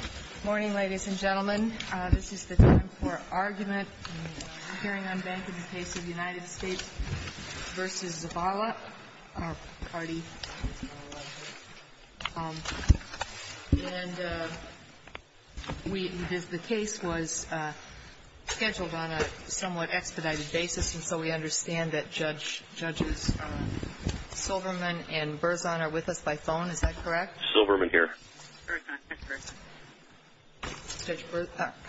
Good morning, ladies and gentlemen. This is the time for arguments in the hearing on bankruptcy of the United States v. Zavala, Carty. The case was scheduled on a somewhat expedited basis, and so we understand that Judge Silverman and Berzon are with us by phone. Is that correct? Yes, I'm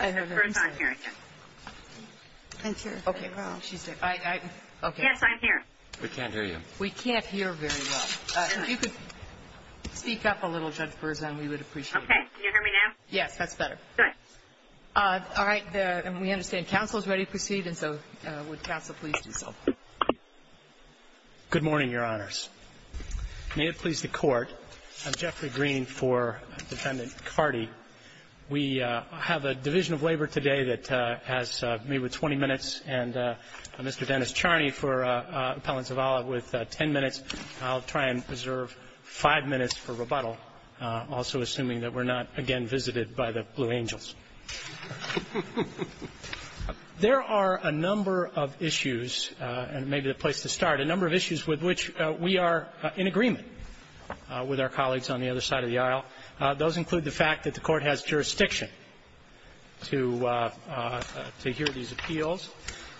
here. We can't hear you. We can't hear very well. If you could speak up a little, Judge Berzon, we would appreciate it. Okay, can you hear me now? Yes, that's better. Good. All right, and we understand counsel is ready to proceed, and so would counsel please do so. Good morning, Your Honors. May it please the Court, I'm Jeffrey Green for Defendant Carty. We have a division of labor today that has me with 20 minutes and Mr. Dennis Charney for Appellant Zavala with 10 minutes. I'll try and preserve five minutes for rebuttal, also assuming that we're not again visited by the Blue Angels. There are a number of issues, and maybe the place to start, a number of issues with which we are in agreement with our colleagues on the other side of the aisle. Those include the fact that the Court has jurisdiction to hear these appeals,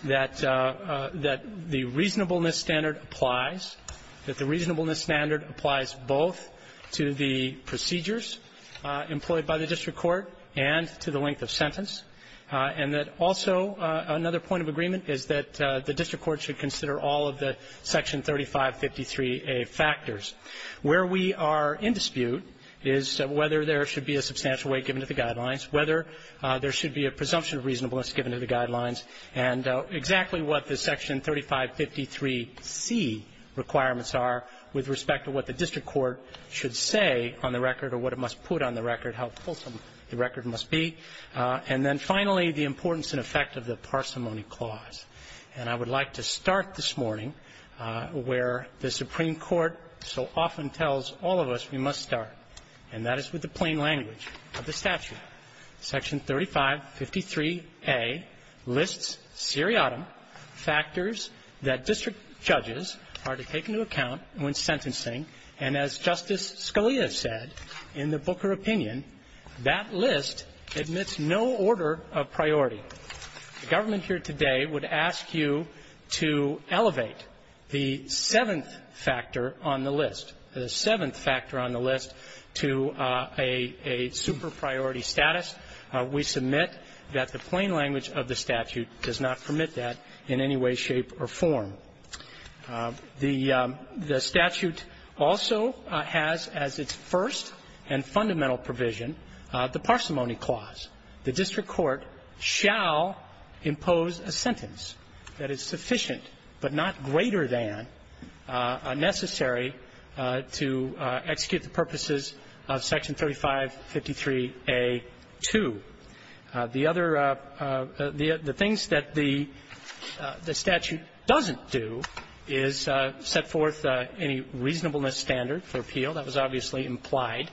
that the reasonableness standard applies, that the reasonableness standard applies both to the procedures employed by the district court and to the length of sentence, and that also another point of agreement is that the district court should consider all of the Section 3553A factors. Where we are in dispute is whether there should be a substantial weight given to the guidelines, whether there should be a presumption of reasonableness given to the guidelines, and exactly what the Section 3553C requirements are with respect to what the district court should say on the record or what it must put on the record, how fulsome the record must be. And then finally, the importance and effect of the parsimony clause. And I would like to start this morning where the Supreme Court so often tells all of us we must start, and that is with the plain language of the statute. Section 3553A lists seriatim factors that district judges are to take into account when sentencing, and as Justice Scalia said in the Booker opinion, that list admits no order of priority. The government here today would ask you to elevate the seventh factor on the list. The seventh factor on the list to a super priority status. We submit that the plain language of the statute does not permit that in any way, shape, or form. The statute also has as its first and fundamental provision the parsimony clause. The district court shall impose a sentence that is sufficient but not greater than necessary to execute the purposes of Section 3553A-2. The things that the statute doesn't do is set forth any reasonableness standard for appeal. That was obviously implied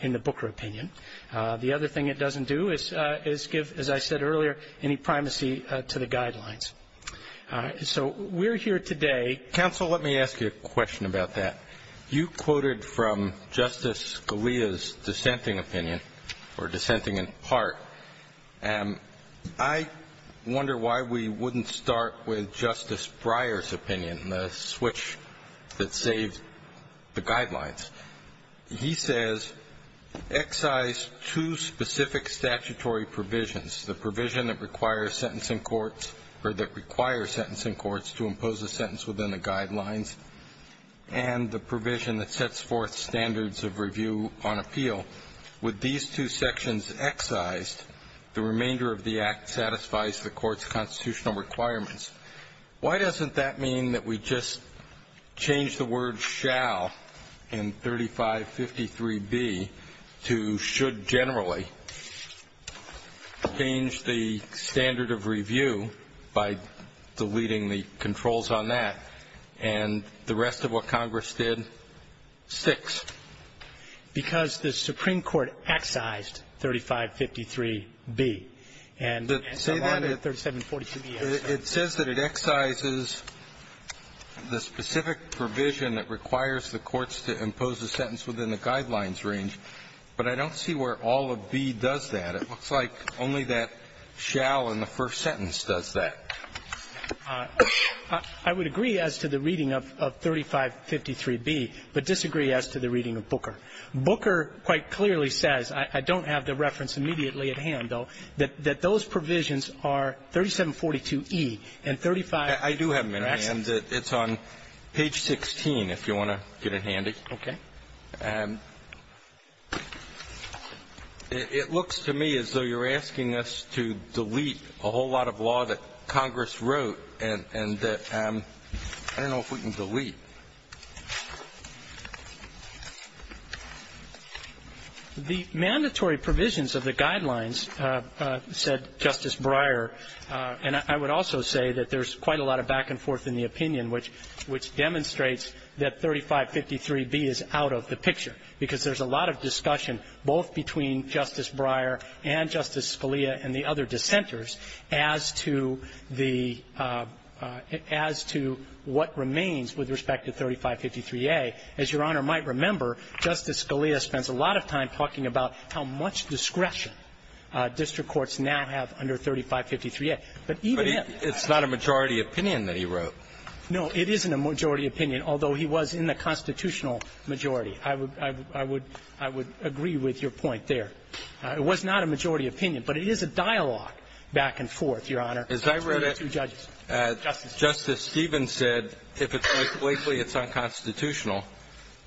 in the Booker opinion. The other thing it doesn't do is give, as I said earlier, any primacy to the guidelines. So we're here today. Counsel, let me ask you a question about that. You quoted from Justice Scalia's dissenting opinion, or dissenting in part, and I wonder why we wouldn't start with Justice Breyer's opinion, the switch that saved the guidelines. He says, excise two specific statutory provisions, the provision that requires sentencing courts to impose a sentence within the guidelines and the provision that sets forth standards of review on appeal. With these two sections excised, the remainder of the Act satisfies the court's constitutional requirements. Why doesn't that mean that we just change the word shall in 3553B to should generally change the standard of review by deleting the controls on that, and the rest of what Congress did sticks? Because the Supreme Court excised 3553B. It says that it excises the specific provision that requires the courts to impose a sentence within the guidelines range, but I don't see where all of B does that. It looks like only that shall in the first sentence does that. I would agree as to the reading of 3553B, but disagree as to the reading of Booker. Booker quite clearly says, I don't have the reference immediately at hand, though, that those provisions are 3742E and 3553B. I do have them in my hand. It's on page 16 if you want to get it handy. Okay. It looks to me as though you're asking us to delete a whole lot of law that Congress wrote, and that I don't know if we can delete. The mandatory provisions of the guidelines, said Justice Breyer, and I would also say that there's quite a lot of back and forth in the opinion, which demonstrates that 3553B is out of the picture, because there's a lot of discussion both between Justice Breyer and Justice Scalia and the other dissenters as to what remains with respect to 3553A. As Your Honor might remember, Justice Scalia spends a lot of time talking about how much discretion district courts now have under 3553A. It's not a majority opinion that he wrote. No, it isn't a majority opinion, although he was in the constitutional majority. I would agree with your point there. It was not a majority opinion, but it is a dialogue back and forth, Your Honor. As I read it, Justice Stevens said, if it's like Blakely, it's unconstitutional.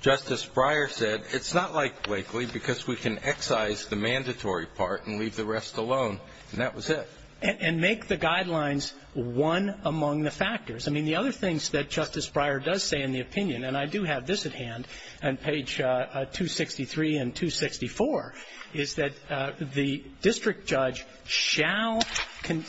Justice Breyer said, it's not like Blakely because we can excise the mandatory part and leave the rest alone, and that was it. And make the guidelines one among the factors. I mean, the other things that Justice Breyer does say in the opinion, and I do have this at hand on page 263 and 264, is that the district judge shall consider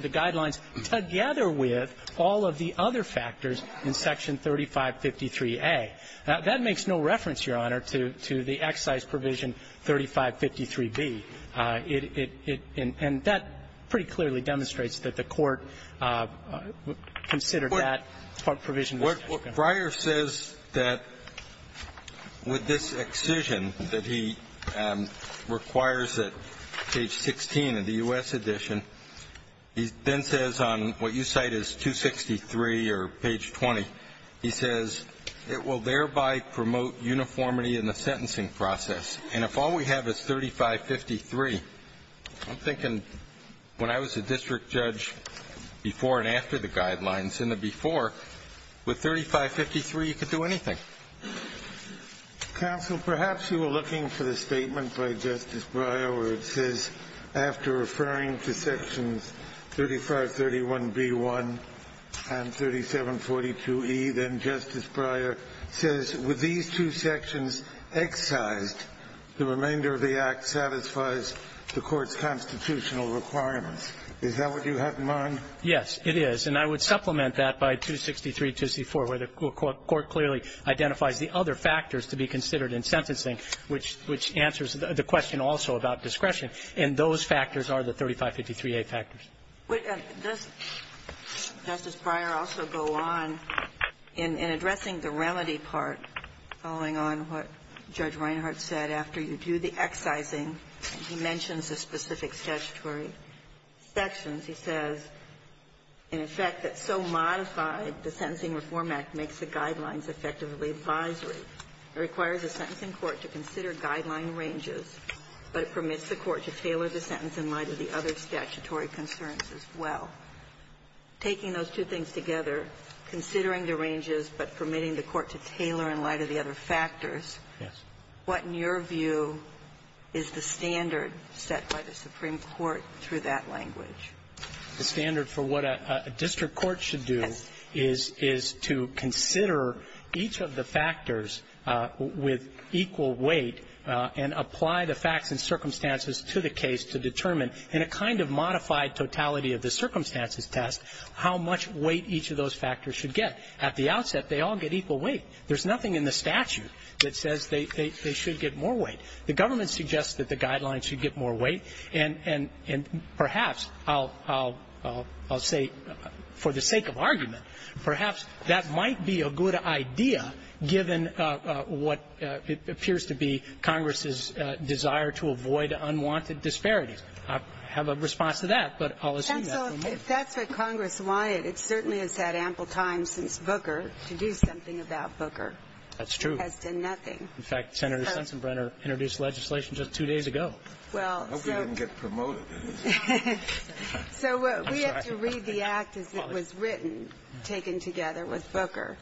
the guidelines together with all of the other factors in section 3553A. Now, that makes no reference, Your Honor, to the excise provision 3553B. And that pretty clearly demonstrates that the court considered that provision. What Breyer says with this excision that he requires at page 16 of the U.S. edition, he then says on what you cite as 263 or page 20, he says, it will thereby promote uniformity in the sentencing process. And if all we have is 3553, I'm thinking when I was a district judge before and after the guidelines, in the before, would 3553 do anything? Counsel, perhaps you were looking for the statement by Justice Breyer where it says, after referring to sections 3531B1 and 3742E, then Justice Breyer says, with these two sections excised, the remainder of the act satisfies the court's constitutional requirements. Is that what you have in mind? Yes, it is. And I would supplement that by 263 and 264, where the court clearly identifies the other factors to be considered in sentencing, which answers the question also about discretion. And those factors are the 3553A factors. Does Justice Breyer also go on in addressing the remedy part, following on what Judge Reinhart said, after you do the excising, he mentions the specific statutory sections. He says, in effect, it's so modified the Sentencing Reform Act makes the guidelines effectively advisory. It requires the sentencing court to consider guideline ranges, but it permits the court to tailor the sentence in light of the other statutory concerns as well. Taking those two things together, considering the ranges, but permitting the court to tailor in light of the other factors, what, in your view, is the standard set by the Supreme Court through that language? The standard for what a district court should do is to consider each of the factors with equal weight and apply the facts and circumstances to the case to determine, in a kind of modified totality of the circumstances test, how much weight each of those factors should get. At the outset, they all get equal weight. There's nothing in the statute that says they should get more weight. The government suggests that the guidelines should get more weight, and perhaps, I'll say for the sake of argument, perhaps that might be a good idea given what appears to be Congress's desire to avoid unwanted disparities. I have a response to that, but I'll assume that. If that's what Congress wanted, it certainly is that ample time since Booker to do something about Booker. That's true. That's been nothing. In fact, Senator Stensenbrenner introduced legislation just two days ago. I hope it doesn't get promoted. We have to read the act as it was written, taken together with Booker.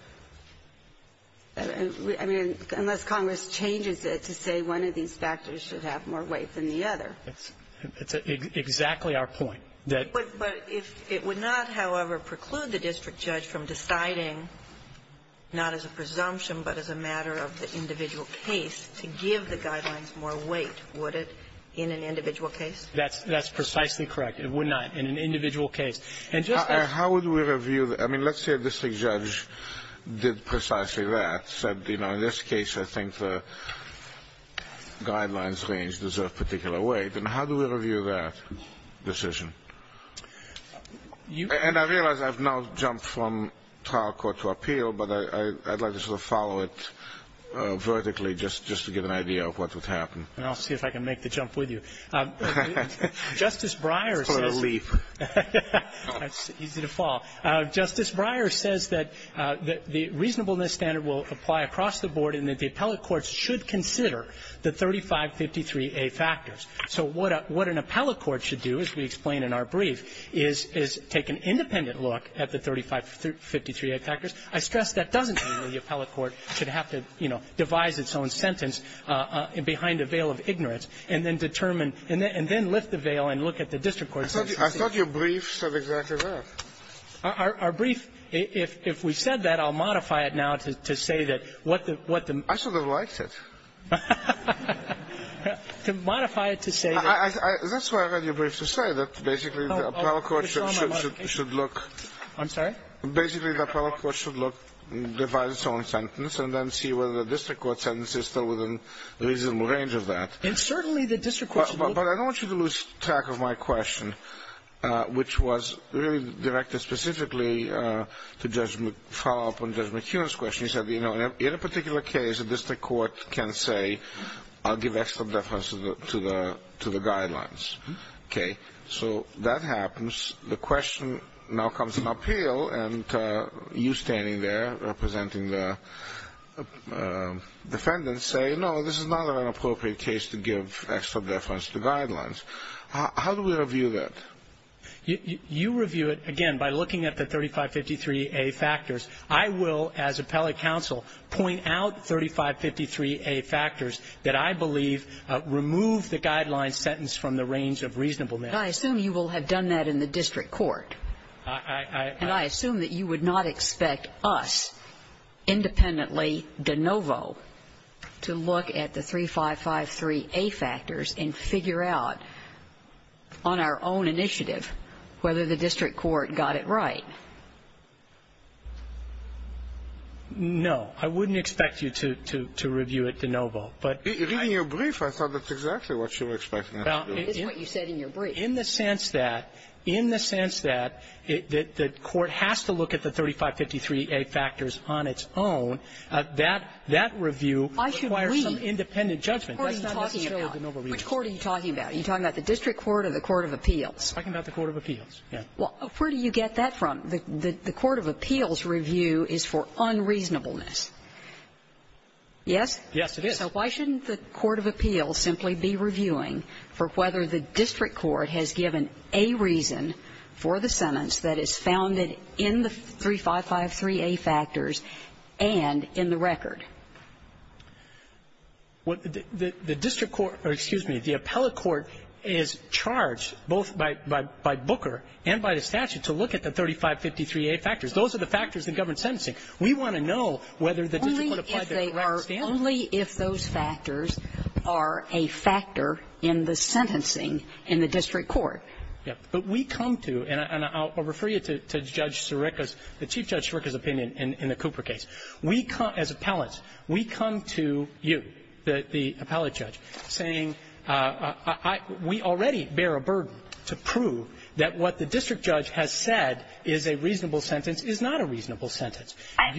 Unless Congress changes it to say one of these factors should have more weight than the other. That's exactly our point. It would not, however, preclude the district judge from deciding, not as a presumption, but as a matter of the individual case, to give the guidelines more weight, would it, in an individual case? That's precisely correct. It would not in an individual case. How would we review? I mean, let's say a district judge did precisely that, said, you know, in this case I think the guidelines range deserve particular weight. Then how do we review that decision? And I realize I've now jumped from trial court to appeal, but I'd like to sort of follow it vertically just to get an idea of what would happen. And I'll see if I can make the jump with you. Justice Breyer says that the reasonableness standard will apply across the board and that the appellate courts should consider the 3553A factors. So what an appellate court should do, as we explain in our brief, is take an independent look at the 3553A factors. I stress that doesn't mean that the appellate court should have to, you know, devise its own sentence behind a veil of ignorance and then determine and then lift the veil and look at the district court. I thought your brief said exactly that. Our brief, if we said that, I'll modify it now to say that what the... I sort of liked it. To modify it to say... That's why I got your brief to say that basically the appellate court should look... I'm sorry? Basically the appellate court should look and devise its own sentence and then see whether the district court sentence is still within reasonable range of that. And certainly the district court... But I don't want you to lose track of my question, which was really directed specifically to Judge McFarland and Judge McHugh's question. He said, you know, in a particular case, a district court can say I'll give extra deference to the guidelines. Okay? So that happens. The question now comes to an appeal, and you standing there representing the defendants say, no, this is not an appropriate case to give extra deference to guidelines. How do we review that? You review it, again, by looking at the 3553A factors. I will, as appellate counsel, point out 3553A factors that I believe remove the guideline sentence from the range of reasonable measure. But I assume you will have done that in the district court. And I assume that you would not expect us, independently de novo, to look at the 3553A factors and figure out on our own initiative whether the district court got it right. No. I wouldn't expect you to review it de novo. In your brief, I thought that's exactly what you were expecting us to do. It is what you said in your brief. In the sense that the court has to look at the 3553A factors on its own, that review requires some independent judgment. Which court are you talking about? Are you talking about the district court or the court of appeals? I'm talking about the court of appeals. Where do you get that from? The court of appeals review is for unreasonableness. Yes? Yes, it is. So why shouldn't the court of appeals simply be reviewing for whether the district court has given a reason for the sentence that is founded in the 3553A factors and in the record? The district court or, excuse me, the appellate court is charged both by Booker and by the statute to look at the 3553A factors. Those are the factors that govern sentencing. We want to know whether the district court applied their own standards. Only if those factors are a factor in the sentencing in the district court. Yes. But we come to, and I'll refer you to Judge Sirica's, the Chief Judge Sirica's opinion in the Cooper case. As appellants, we come to you, the appellate judge, saying we already bear a burden to prove that what the district judge has said is a reasonable sentence is not a reasonable sentence. I'm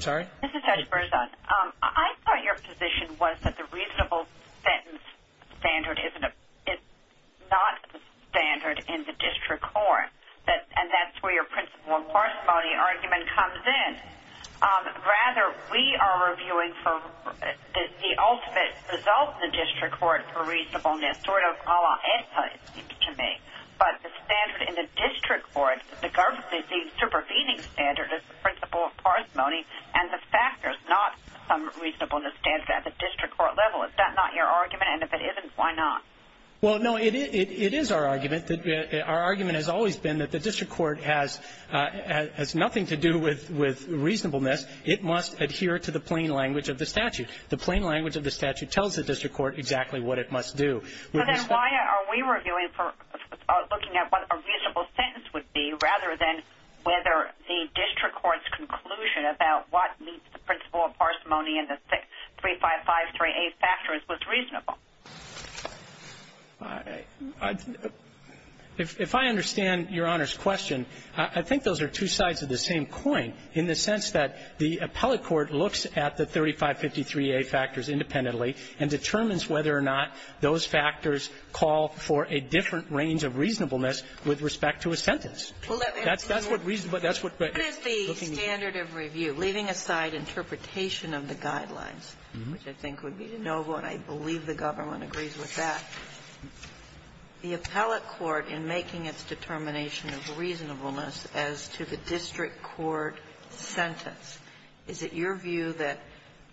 sorry? This is Judge Berza. I thought your position was that the reasonable sentence standard is not standard in the district court, and that's where your principle of parsimony argument comes in. Rather, we are reviewing for the ultimate result in the district court for reasonableness, which is sort of a la etta, it seems to me. But the standard in the district court, regardless of the supervising standard, is the principle of parsimony, and the fact there's not some reasonableness standard at the district court level. Is that not your argument? And if it isn't, why not? Well, no, it is our argument. Our argument has always been that the district court has nothing to do with reasonableness. It must adhere to the plain language of the statute. And the plain language of the statute tells the district court exactly what it must do. But then why are we reviewing for looking at what a reasonable sentence would be, rather than whether the district court's conclusion about what meets the principle of parsimony in the 6.355.3a factor was reasonable? If I understand Your Honor's question, I think those are two sides of the same coin, in the sense that the appellate court looks at the 6.355.3a factors independently and determines whether or not those factors call for a different range of reasonableness with respect to a sentence. Could the standard of review, leaving aside interpretation of the guidelines, which I think would be noble, and I believe the government agrees with that, the appellate court in making its determination of reasonableness as to the district court sentence, is it your view that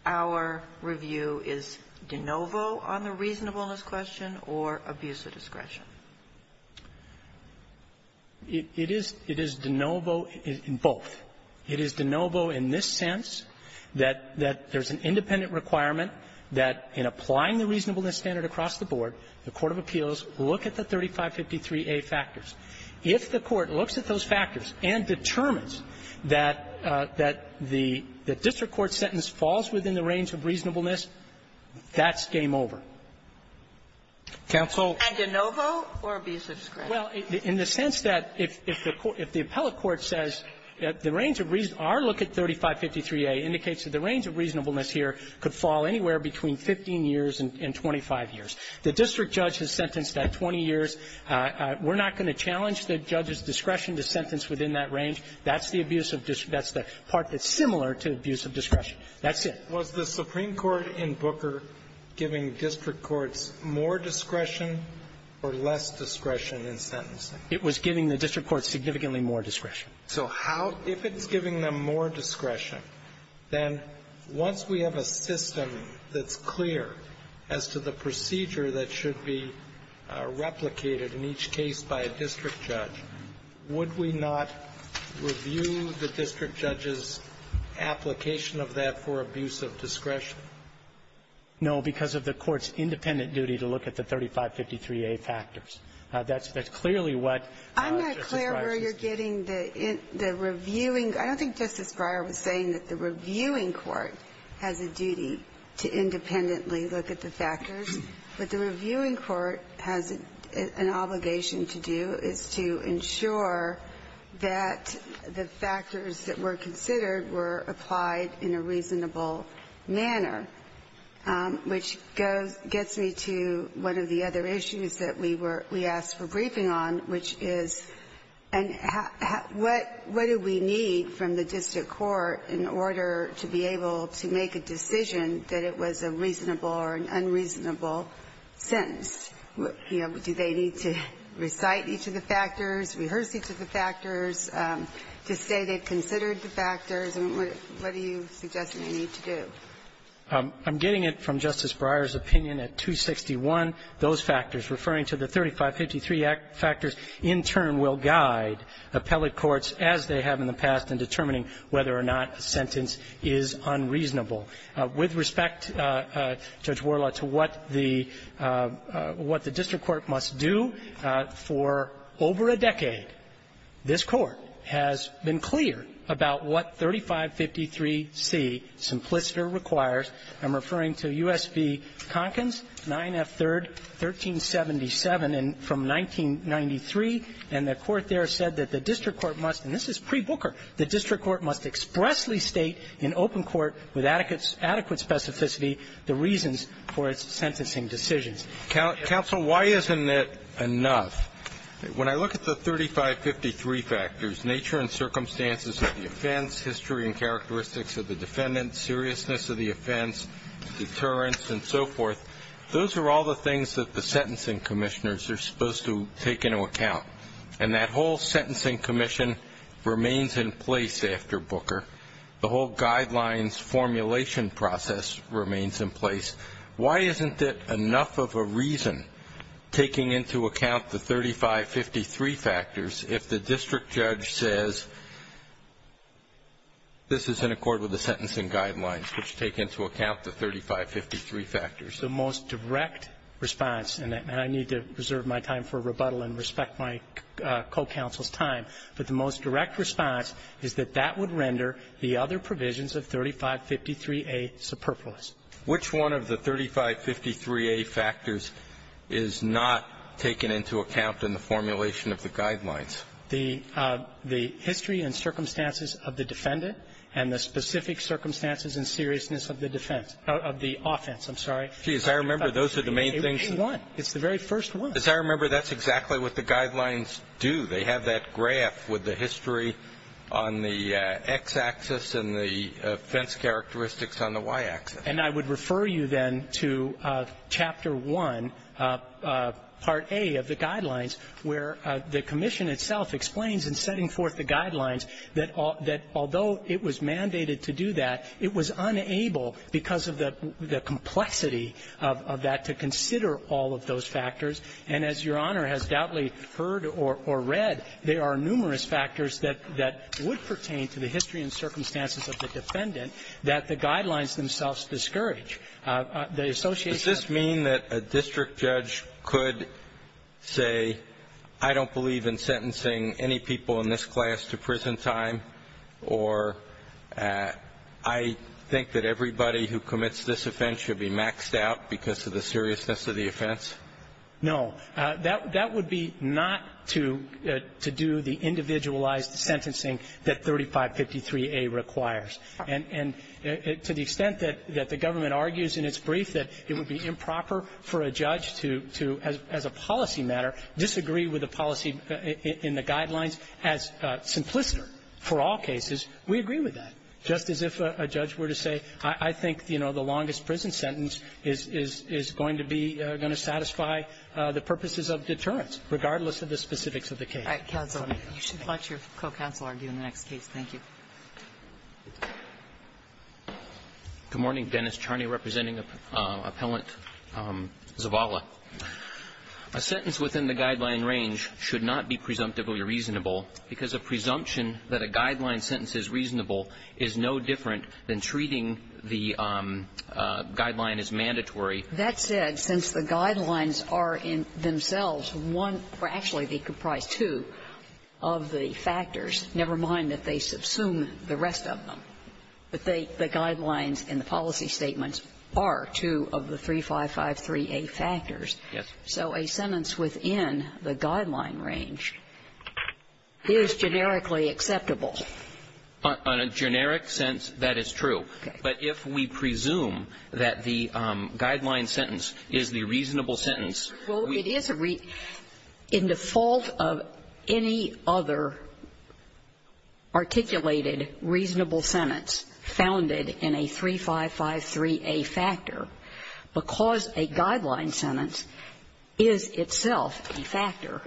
our review is de novo on the reasonableness question or abuse of discretion? It is de novo in both. It is de novo in this sense, that there's an independent requirement that in applying the reasonableness standard across the board, the court of appeals look at the 6.355.3a factors. If the court looks at those factors and determines that the district court sentence falls within the range of reasonableness, that's game over. And de novo or abuse of discretion? Well, in the sense that if the appellate court says our look at 6.355.3a indicates that the range of reasonableness here could fall anywhere between 15 years and 25 years. The district judge is sentenced at 20 years. We're not going to challenge the judge's discretion to sentence within that range. That's the part that's similar to abuse of discretion. That's it. Was the Supreme Court in Booker giving district courts more discretion or less discretion in sentencing? It was giving the district courts significantly more discretion. If it's giving them more discretion, then once we have a system that's clear as to the procedure that should be replicated in each case by a district judge, would we not review the district judge's application of that for abuse of discretion? No, because of the court's independent duty to look at the 6.355.3a factors. I'm not clear where you're getting the reviewing. I don't think Justice Breyer was saying that the reviewing court has a duty to independently look at the factors, but the reviewing court has an obligation to do is to ensure that the factors that were considered were applied in a reasonable manner, which gets me to one of the other issues that we asked for briefing on, which is what do we need from the district court in order to be able to make a decision that it was a reasonable or an unreasonable sentence? Do they need to recite each of the factors, rehearse each of the factors, to say they considered the factors, and what do you suggest you need to do? I'm getting it from Justice Breyer's opinion at 261. Those factors, referring to the 3.553 factors, in turn will guide appellate courts, as they have in the past, in determining whether or not a sentence is unreasonable. With respect, Judge Worla, to what the district court must do, for over a decade, this court has been clear about what 3.553c, simpliciter, requires. I'm referring to U.S. v. Conkins, 9F.3rd, 1377, from 1993, and the court there said that the district court must, and this is pre-Booker, the district court must expressly state in open court with adequate specificity the reasons for its sentencing decisions. Counsel, why isn't it enough? When I look at the 3.553 factors, nature and circumstances of the offense, history and characteristics of the defendant, seriousness of the offense, deterrence, and so forth, those are all the things that the sentencing commissioners are supposed to take into account, and that whole sentencing commission remains in place after Booker. The whole guidelines formulation process remains in place. Why isn't it enough of a reason, taking into account the 3.553 factors, if the district judge says this is in accord with the sentencing guidelines, which take into account the 3.553 factors? The most direct response, and I need to reserve my time for rebuttal and respect my co-counsel's time, but the most direct response is that that would render the other provisions of 3.553A superfluous. Which one of the 3.553A factors is not taken into account in the formulation of the guidelines? The history and circumstances of the defendant and the specific circumstances and seriousness of the offense. As I remember, those are the main things. It's the very first one. As I remember, that's exactly what the guidelines do. They have that graph with the history on the X axis and the offense characteristics on the Y axis. And I would refer you then to Chapter 1, Part A of the guidelines, where the commission itself explains in setting forth the guidelines that although it was mandated to do that, it was unable, because of the complexity of that, to consider all of those factors. And as Your Honor has doubly heard or read, there are numerous factors that would pertain to the history and circumstances of the defendant that the guidelines themselves discourage. Does this mean that a district judge could say, I don't believe in sentencing any people in this class to prison time, or I think that everybody who commits this offense should be maxed out because of the seriousness of the offense? No. That would be not to do the individualized sentencing that 3553A requires. And to the extent that the government argues in its brief that it would be improper for a judge to, as a policy matter, disagree with the policy in the guidelines as simplistic for all cases, we agree with that. Just as if a judge were to say, I think the longest prison sentence is going to satisfy the purposes of deterrence, regardless of the specifics of the case. You should watch your co-counsel argue in that case. Thank you. Good morning. Dennis Charney, representing Appellant Zavala. A sentence within the guideline range should not be presumptively reasonable, because a presumption that a guideline sentence is reasonable is no different than treating the guideline as mandatory. That said, since the guidelines are themselves one, or actually be comprised two, of the factors, never mind that they subsume the rest of them. The guidelines in the policy statements are two of the 3553A factors. Yes. So a sentence within the guideline range is generically acceptable. On a generic sense, that is true. Okay. But if we presume that the guideline sentence is the reasonable sentence... Well, it is a... In the fault of any other articulated reasonable sentence founded in a 3553A factor, because a guideline sentence is itself a factor...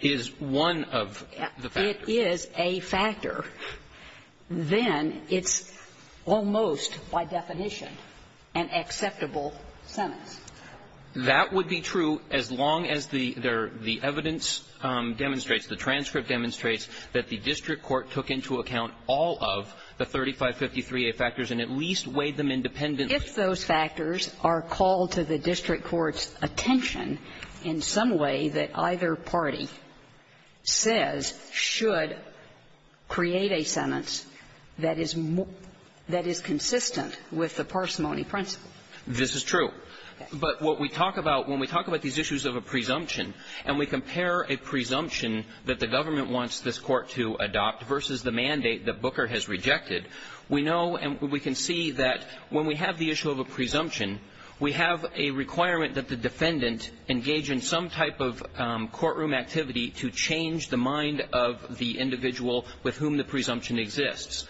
Is one of the factors. If it is a factor, then it's almost, by definition, an acceptable sentence. That would be true as long as the evidence demonstrates, the transcript demonstrates, that the district court took into account all of the 3553A factors and at least weighed them independently. I guess those factors are called to the district court's attention in some way that either party says should create a sentence that is consistent with the parsimony principle. This is true. But what we talk about when we talk about these issues of a presumption, and we compare a presumption that the government wants this court to adopt versus the mandate that Booker has rejected, we know and we can see that when we have the issue of a presumption, we have a requirement that the defendant engage in some type of courtroom activity to change the mind of the individual with whom the presumption exists.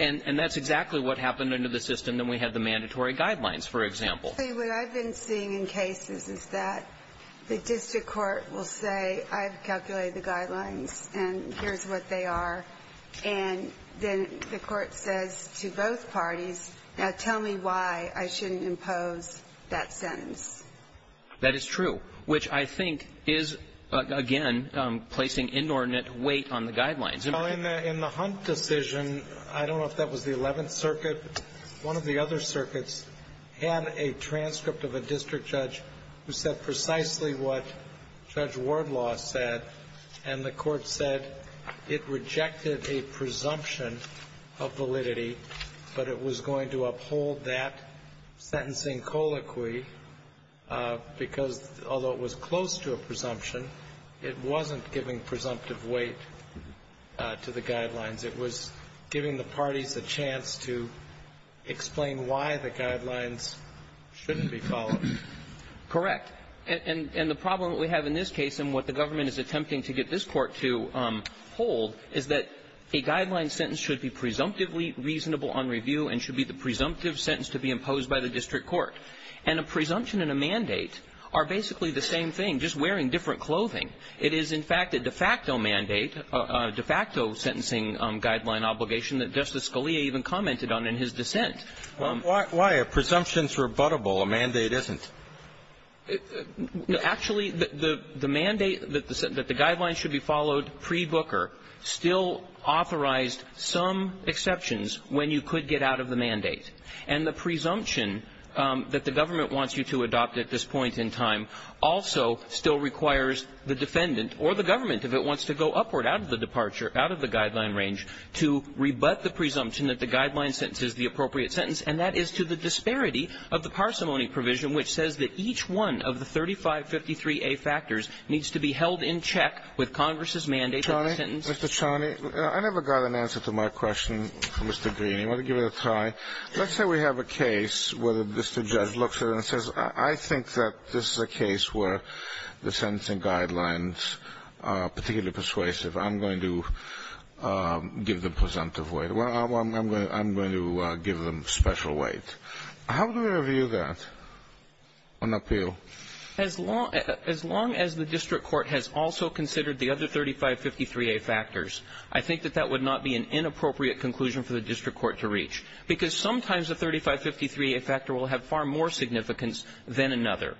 And that's exactly what happened under the system when we had the mandatory guidelines, for example. What I've been seeing in cases is that the district court will say, I've calculated the guidelines and here's what they are. And then the court says to both parties, now tell me why I shouldn't impose that sentence. That is true, which I think is, again, placing inordinate weight on the guidelines. In the Hunt decision, I don't know if that was the 11th Circuit, but one of the other circuits had a transcript of a district judge who said precisely what Judge Wardlaw said, and the court said it rejected a presumption of validity, but it was going to uphold that sentencing colloquy because although it was close to a presumption, it wasn't giving presumptive weight to the guidelines. It was giving the parties a chance to explain why the guidelines shouldn't be followed. Correct, and the problem that we have in this case and what the government is attempting to get this court to hold is that a guideline sentence should be presumptively reasonable on review and should be the presumptive sentence to be imposed by the district court. And a presumption and a mandate are basically the same thing, just wearing different clothing. It is, in fact, a de facto mandate, a de facto sentencing guideline obligation that Justice Scalia even commented on in his dissent. Why are presumptions rebuttable, a mandate isn't? Actually, the mandate that the guidelines should be followed pre-Booker still authorized some exceptions when you could get out of the mandate, and the presumption that the government wants you to adopt at this point in time also still requires the defendant or the government, if it wants to go upward out of the departure, out of the guideline range, to rebut the presumption that the guideline sentence is the appropriate sentence, and that is to the disparity of the parsimony provision, which says that each one of the 3553A factors needs to be held in check with Congress's mandate. Mr. Chaney, I never got an answer to my question from Mr. Green. Let me give it a try. Let's say we have a case where the district judge looks at it and says, I think that this is a case where the sentencing guidelines are particularly persuasive. I'm going to give them presumptive weight. I'm going to give them special weight. How do we review that on that deal? As long as the district court has also considered the other 3553A factors, I think that that would not be an inappropriate conclusion for the district court to reach, because sometimes the 3553A factor will have far more significance than another.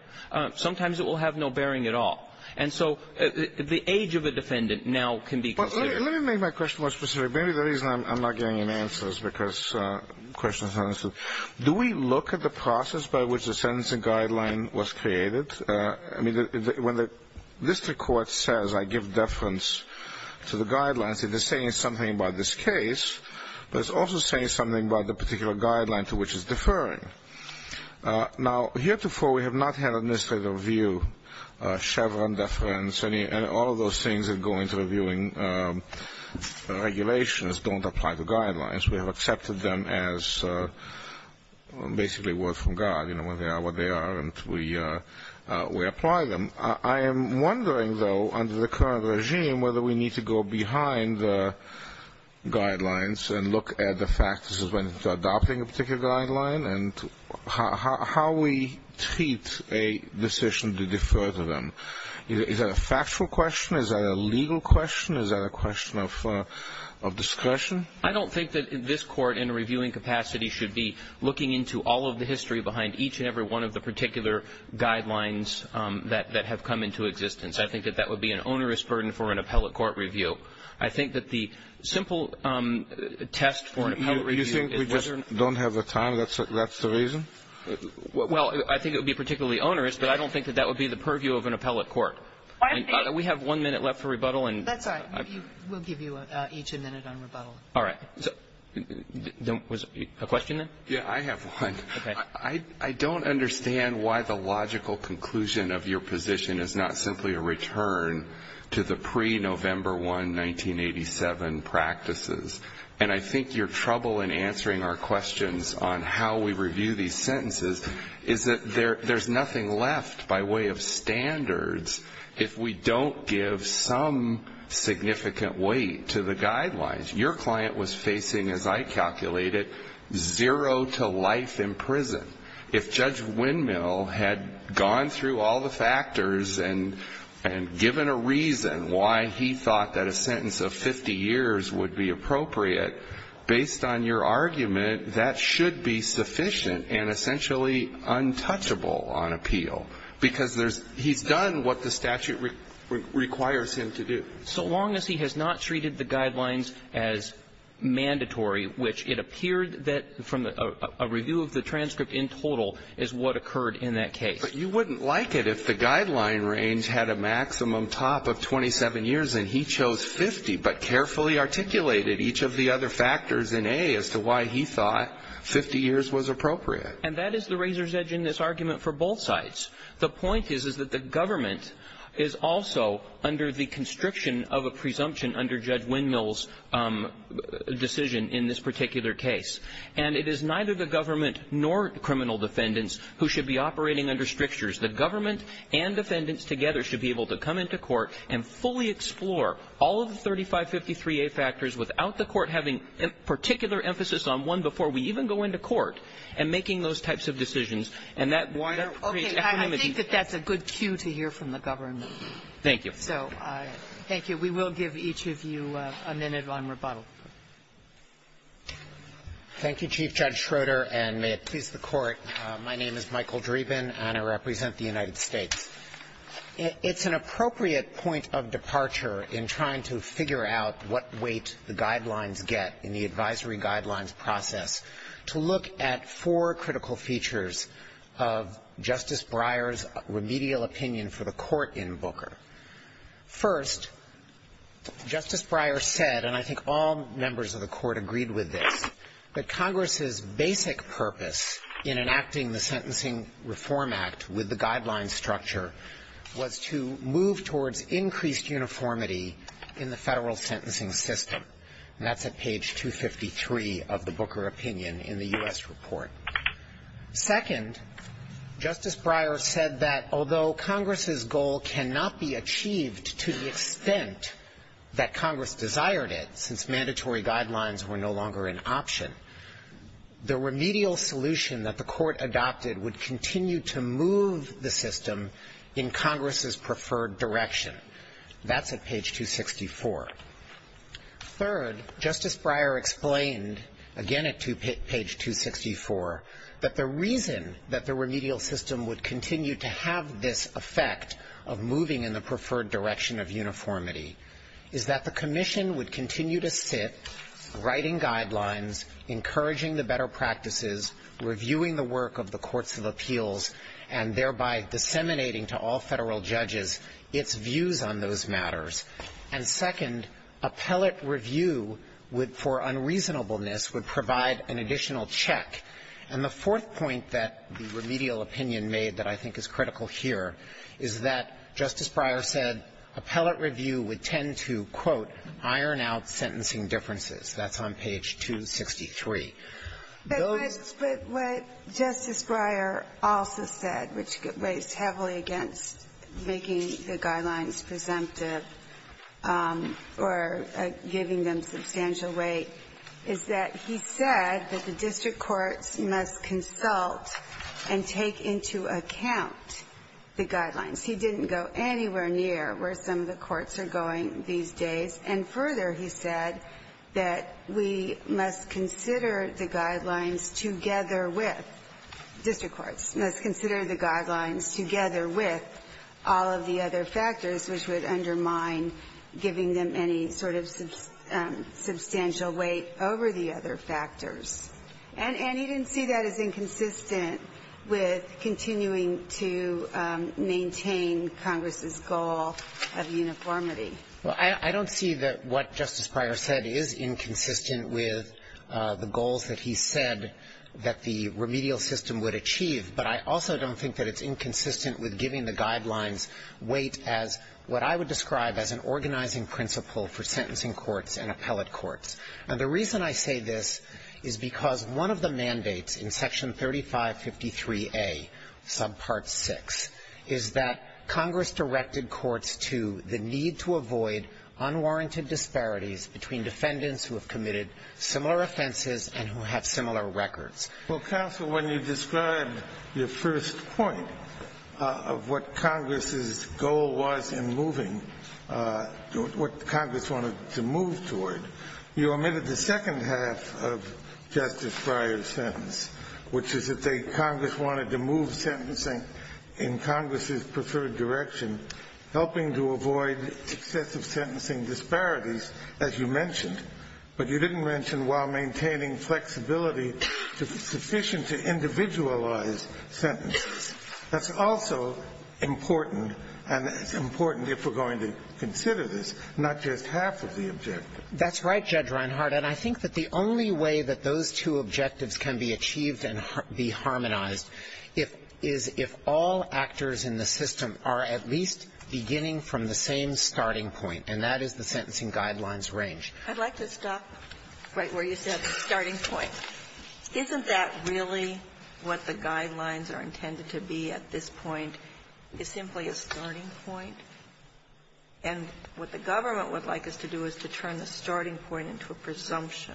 Sometimes it will have no bearing at all. And so the age of a defendant now can be considered. Let me make my question more specific. Maybe the reason I'm not getting an answer is because the question is unanswered. Do we look at the process by which the sentencing guideline was created? I mean, when the district court says, I give deference to the guidelines, it is saying something about this case, but it's also saying something about the particular guideline to which it's deferring. Now, heretofore we have not had a necessary review of Chevron deference, and all of those things that go into reviewing regulations don't apply to guidelines. We have accepted them as basically words from God. They are what they are, and we apply them. I am wondering, though, under the current regime, whether we need to go behind the guidelines and look at the factors when adopting a particular guideline and how we treat a decision to defer to them. Is that a factual question? Is that a legal question? Is that a question of discretion? I don't think that this court in a reviewing capacity should be looking into all of the history and looking behind each and every one of the particular guidelines that have come into existence. I think that that would be an onerous burden for an appellate court review. I think that the simple test for an appellate review is just... You think we just don't have the time, that's the reason? Well, I think it would be particularly onerous, but I don't think that that would be the purview of an appellate court. We have one minute left for rebuttal. That's all right. We'll give you each a minute on rebuttal. All right. Was there a question there? Yeah, I have one. I don't understand why the logical conclusion of your position is not simply a return to the pre-November 1, 1987 practices. And I think your trouble in answering our questions on how we review these sentences is that there's nothing left by way of standards if we don't give some significant weight to the guidelines. Your client was facing, as I calculated, zero to life in prison. If Judge Windmill had gone through all the factors and given a reason why he thought that a sentence of 50 years would be appropriate, based on your argument, that should be sufficient and essentially untouchable on appeal because he's done what the statute requires him to do. So long as he has not treated the guidelines as mandatory, which it appears that a review of the transcript in total is what occurred in that case. But you wouldn't like it if the guideline range had a maximum top of 27 years and he chose 50 but carefully articulated each of the other factors in A as to why he thought 50 years was appropriate. And that is the razor's edge in this argument for both sides. The point is that the government is also under the constriction of a presumption under Judge Windmill's decision in this particular case. And it is neither the government nor criminal defendants who should be operating under strictures. The government and defendants together should be able to come into court and fully explore all of the 3553A factors without the court having a particular emphasis on one before we even go into court and making those types of decisions. Okay, I think that that's a good cue to hear from the government. Thank you. Thank you. We will give each of you a minute on rebuttal. Thank you, Chief Judge Schroeder, and may it please the Court. My name is Michael Dreeben, and I represent the United States. It's an appropriate point of departure in trying to figure out what weight the guidelines get in the advisory guidelines process to look at four critical features of Justice Breyer's remedial opinion for the Court in Booker. First, Justice Breyer said, and I think all members of the Court agreed with this, that Congress's basic purpose in enacting the Sentencing Reform Act with the guidelines structure was to move towards increased uniformity in the federal sentencing system. That's at page 253 of the Booker opinion in the U.S. report. Second, Justice Breyer said that although Congress's goal cannot be achieved to the extent that Congress desired it, since mandatory guidelines were no longer an option, the remedial solution that the Court adopted would continue to move the system in Congress's preferred direction. That's at page 264. Third, Justice Breyer explained, again at page 264, that the reason that the remedial system would continue to have this effect of moving in the preferred direction of uniformity is that the Commission would continue to sit, writing guidelines, encouraging the better practices, reviewing the work of the Courts of Appeals, and thereby disseminating to all federal judges its views on those matters. And second, appellate review for unreasonableness would provide an additional check. And the fourth point that the remedial opinion made that I think is critical here is that, Justice Breyer said, appellate review would tend to, quote, iron out sentencing differences. That's on page 263. But what Justice Breyer also said, which weighs heavily against making the guidelines presumptive or giving them substantial weight, is that he said that the district courts must consult and take into account the guidelines. He didn't go anywhere near where some of the courts are going these days. And further, he said that we must consider the guidelines together with district courts, must consider the guidelines together with all of the other factors, which would undermine giving them any sort of substantial weight over the other factors. And he didn't see that as inconsistent with continuing to maintain Congress's goal of uniformity. Well, I don't see that what Justice Breyer said is inconsistent with the goals that he said that the remedial system would achieve, but I also don't think that it's inconsistent with giving the guidelines weight as what I would describe as an organizing principle for sentencing courts and appellate courts. And the reason I say this is because one of the mandates in Section 3553A, subpart 6, is that Congress directed courts to the need to avoid unwarranted disparities between defendants who have committed similar offenses and who have similar records. Well, counsel, when you describe your first point of what Congress's goal was in moving, what Congress wanted to move toward, you omitted the second half of Justice Breyer's sentence, which is that Congress wanted to move sentencing in Congress's preferred direction, helping to avoid excessive sentencing disparities, as you mentioned, but you didn't mention while maintaining flexibility sufficient to individualize sentences. That's also important and important if we're going to consider this, not just half of the objectives. That's right, Judge Reinhart, and I think that the only way that those two objectives can be achieved and be harmonized is if all actors in the system are at least beginning from the same starting point, and that is the sentencing guidelines range. I'd like to stop right where you said the starting point. Isn't that really what the guidelines are intended to be at this point? It's simply a starting point? And what the government would like us to do is to turn the starting point into a presumption.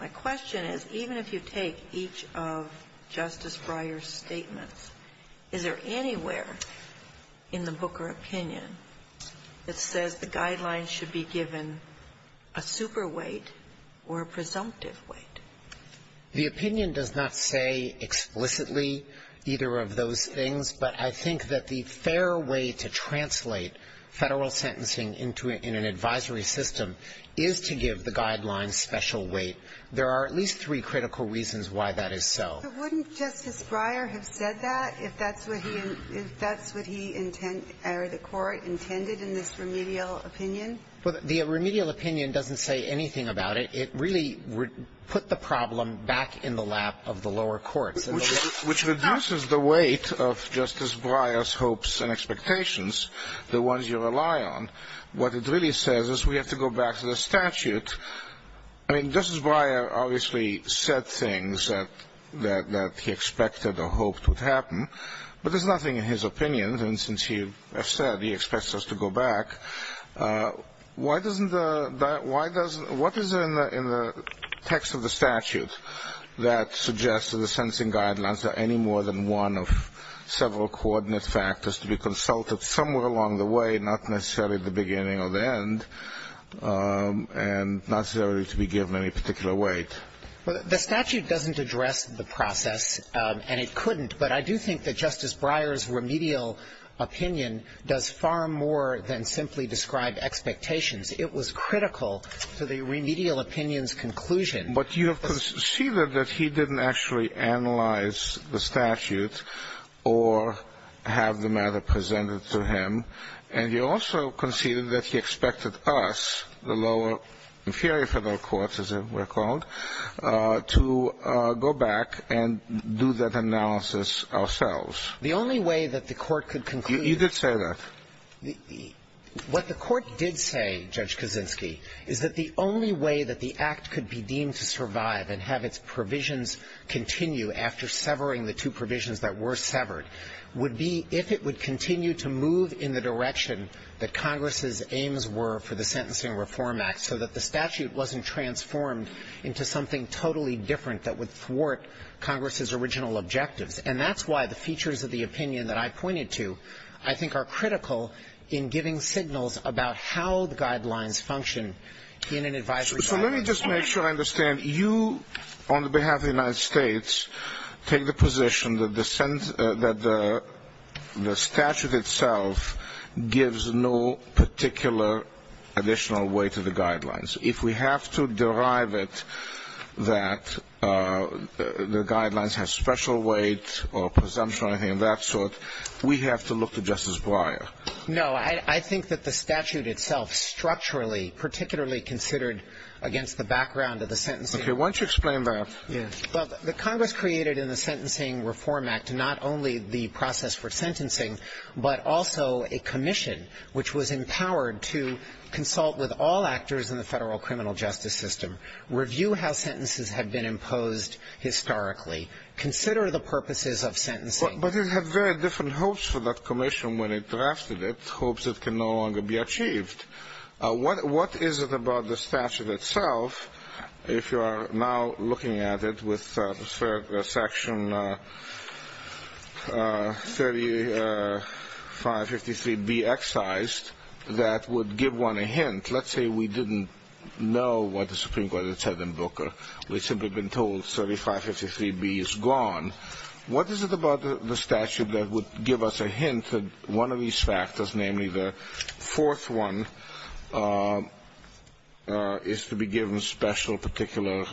My question is, even if you take each of Justice Breyer's statements, is there anywhere in the Booker opinion that says the guidelines should be given a super weight or a presumptive weight? The opinion does not say explicitly either of those things, but I think that the fair way to translate federal sentencing into an advisory system is to give the guidelines special weight. There are at least three critical reasons why that is so. But wouldn't Justice Breyer have said that if that's what he or the court intended in this remedial opinion? The remedial opinion doesn't say anything about it. It really put the problem back in the lap of the lower courts. Which reduces the weight of Justice Breyer's hopes and expectations, the ones you rely on. What it really says is we have to go back to the statute. Justice Breyer obviously said things that he expected or hoped would happen, but there's nothing in his opinion. And since you have said he expects us to go back, what is in the text of the statute that suggests that the sentencing guidelines are any more than one of several coordinate factors to be consulted somewhere along the way, not necessarily at the beginning or the end, and not necessarily to be given any particular weight? The statute doesn't address the process, and it couldn't, but I do think that Justice Breyer's remedial opinion does far more than simply describe expectations. It was critical to the remedial opinion's conclusion. But you have conceded that he didn't actually analyze the statute or have the matter presented to him, and you also conceded that he expected us, the lower, inferior federal courts as they were called, to go back and do that analysis ourselves. The only way that the court could conclude... You did say that. What the court did say, Judge Kaczynski, is that the only way that the act could be deemed to survive and have its provisions continue after severing the two provisions that were severed would be if it would continue to move in the direction that Congress' aims were for the Sentencing Reform Act so that the statute wasn't transformed into something totally different that would thwart Congress' original objectives. And that's why the features of the opinion that I pointed to, I think, are critical in giving signals about how the guidelines function in an advisory... So let me just make sure I understand. You, on behalf of the United States, take the position that the statute itself gives no particular additional weight to the guidelines. If we have to derive it that the guidelines have special weight or presumption or anything of that sort, we have to look to Justice Breyer. No, I think that the statute itself structurally, particularly considered against the background of the sentencing... Okay, why don't you explain that. The Congress created in the Sentencing Reform Act not only the process for sentencing but also a commission which was empowered to consult with all actors in the federal criminal justice system, review how sentences have been imposed historically, consider the purposes of sentencing. But it had very different hopes for that commission when it drafted it, hopes it can no longer be achieved. What is it about the statute itself, if you are now looking at it with the section 3553B excised, that would give one a hint? Let's say we didn't know what the Supreme Court had said in Brooker. We've simply been told 3553B is gone. What is it about the statute that would give us a hint that one of these factors, namely the fourth one, is to be given a special particular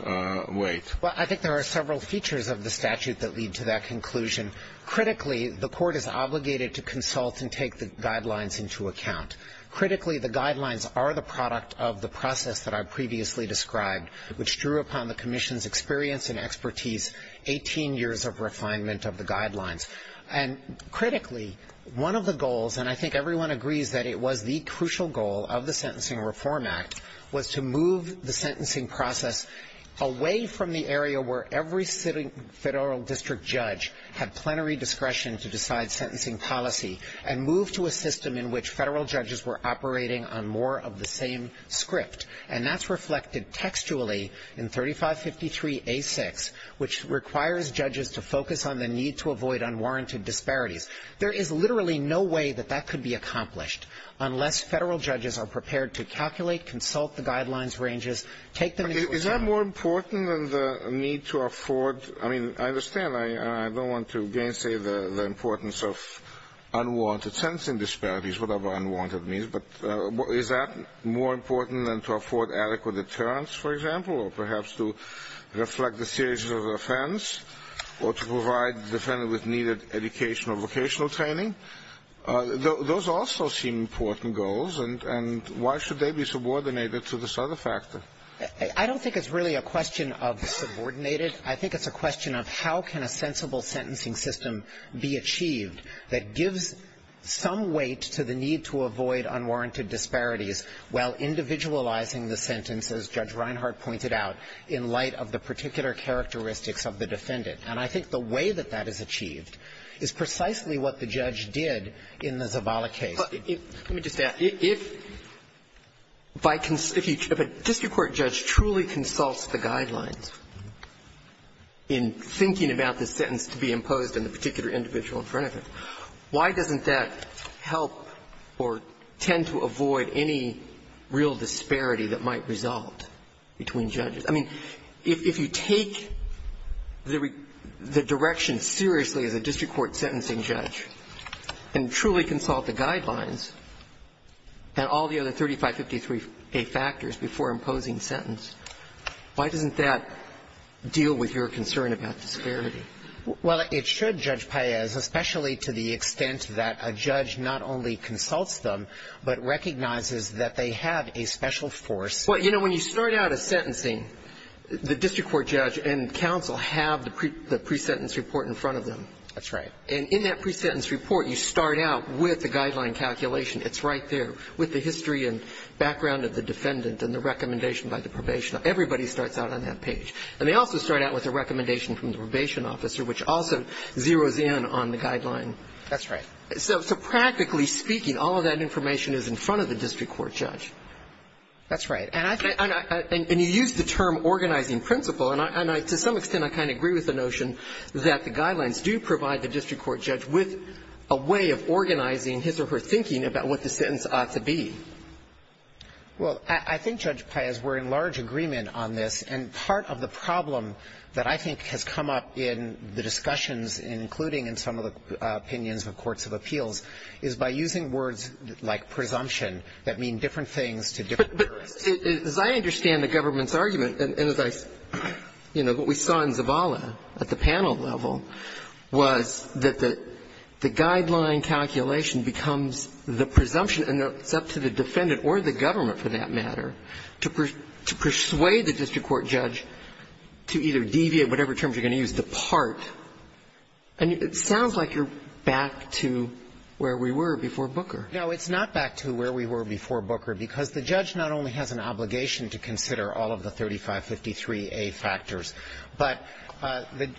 weight? Well, I think there are several features of the statute that lead to that conclusion. Critically, the court is obligated to consult and take the guidelines into account. Critically, the guidelines are the product of the process that I previously described, which drew upon the commission's experience and expertise, 18 years of refinement of the guidelines. And critically, one of the goals, and I think everyone agrees that it was the crucial goal of the Sentencing Reform Act, was to move the sentencing process away from the area where every federal district judge had plenary discretion to decide sentencing policy and move to a system in which federal judges were operating on more of the same script. And that's reflected textually in 3553A6, which requires judges to focus on the need to avoid unwarranted disparities. There is literally no way that that could be accomplished unless federal judges are prepared to calculate, consult the guidelines ranges, take them into account. Is that more important than the need to afford? I mean, I understand, and I don't want to again say the importance of unwarranted sentencing disparities, whatever unwarranted means, but is that more important than to afford adequate deterrence, for example, or perhaps to reflect the stages of offense, or to provide the defendant with needed educational vocational training? Those also seem important goals, and why should they be subordinated to this other factor? I don't think it's really a question of subordinated. I think it's a question of how can a sensible sentencing system be achieved that gives some weight to the need to avoid unwarranted disparities while individualizing the sentence, as Judge Reinhart pointed out, in light of the particular characteristics of the defendant. And I think the way that that is achieved is precisely what the judge did in the Zavala case. Let me just ask, if a district court judge truly consults the guidelines in thinking about the sentence to be imposed on a particular individual in front of him, why doesn't that help or tend to avoid any real disparity that might result between judges? I mean, if you take the direction seriously as a district court sentencing judge and truly consult the guidelines and all the other 3553A factors before imposing sentence, why doesn't that deal with your concern about disparity? Well, it should, Judge Paez, especially to the extent that a judge not only consults them but recognizes that they have a special force. Well, you know, when you start out a sentencing, the district court judge and counsel have the pre-sentence report in front of them. That's right. And in that pre-sentence report, you start out with the guideline calculation. It's right there with the history and background of the defendant and the recommendation by the probation officer. Everybody starts out on that page. And they also start out with a recommendation from the probation officer, which also zeroes in on the guideline. That's right. So practically speaking, all of that information is in front of the district court judge. That's right. And you use the term organizing principle, and to some extent I kind of agree with the notion that the guidelines do provide the district court judge with a way of organizing his or her thinking about what the sentence ought to be. Well, I think, Judge Paez, we're in large agreement on this, and part of the problem that I think has come up in the discussions, including in some of the opinions of courts of appeals, is by using words like presumption that mean different things to different people. But as I understand the government's argument, as we saw in Zavala at the panel level, was that the guideline calculation becomes the presumption, and it's up to the defendant or the government, for that matter, to persuade the district court judge to either deviate, whatever terms you're going to use, depart. And it sounds like you're back to where we were before Booker. No, it's not back to where we were before Booker, because the judge not only has an obligation to consider all of the 3553A factors, but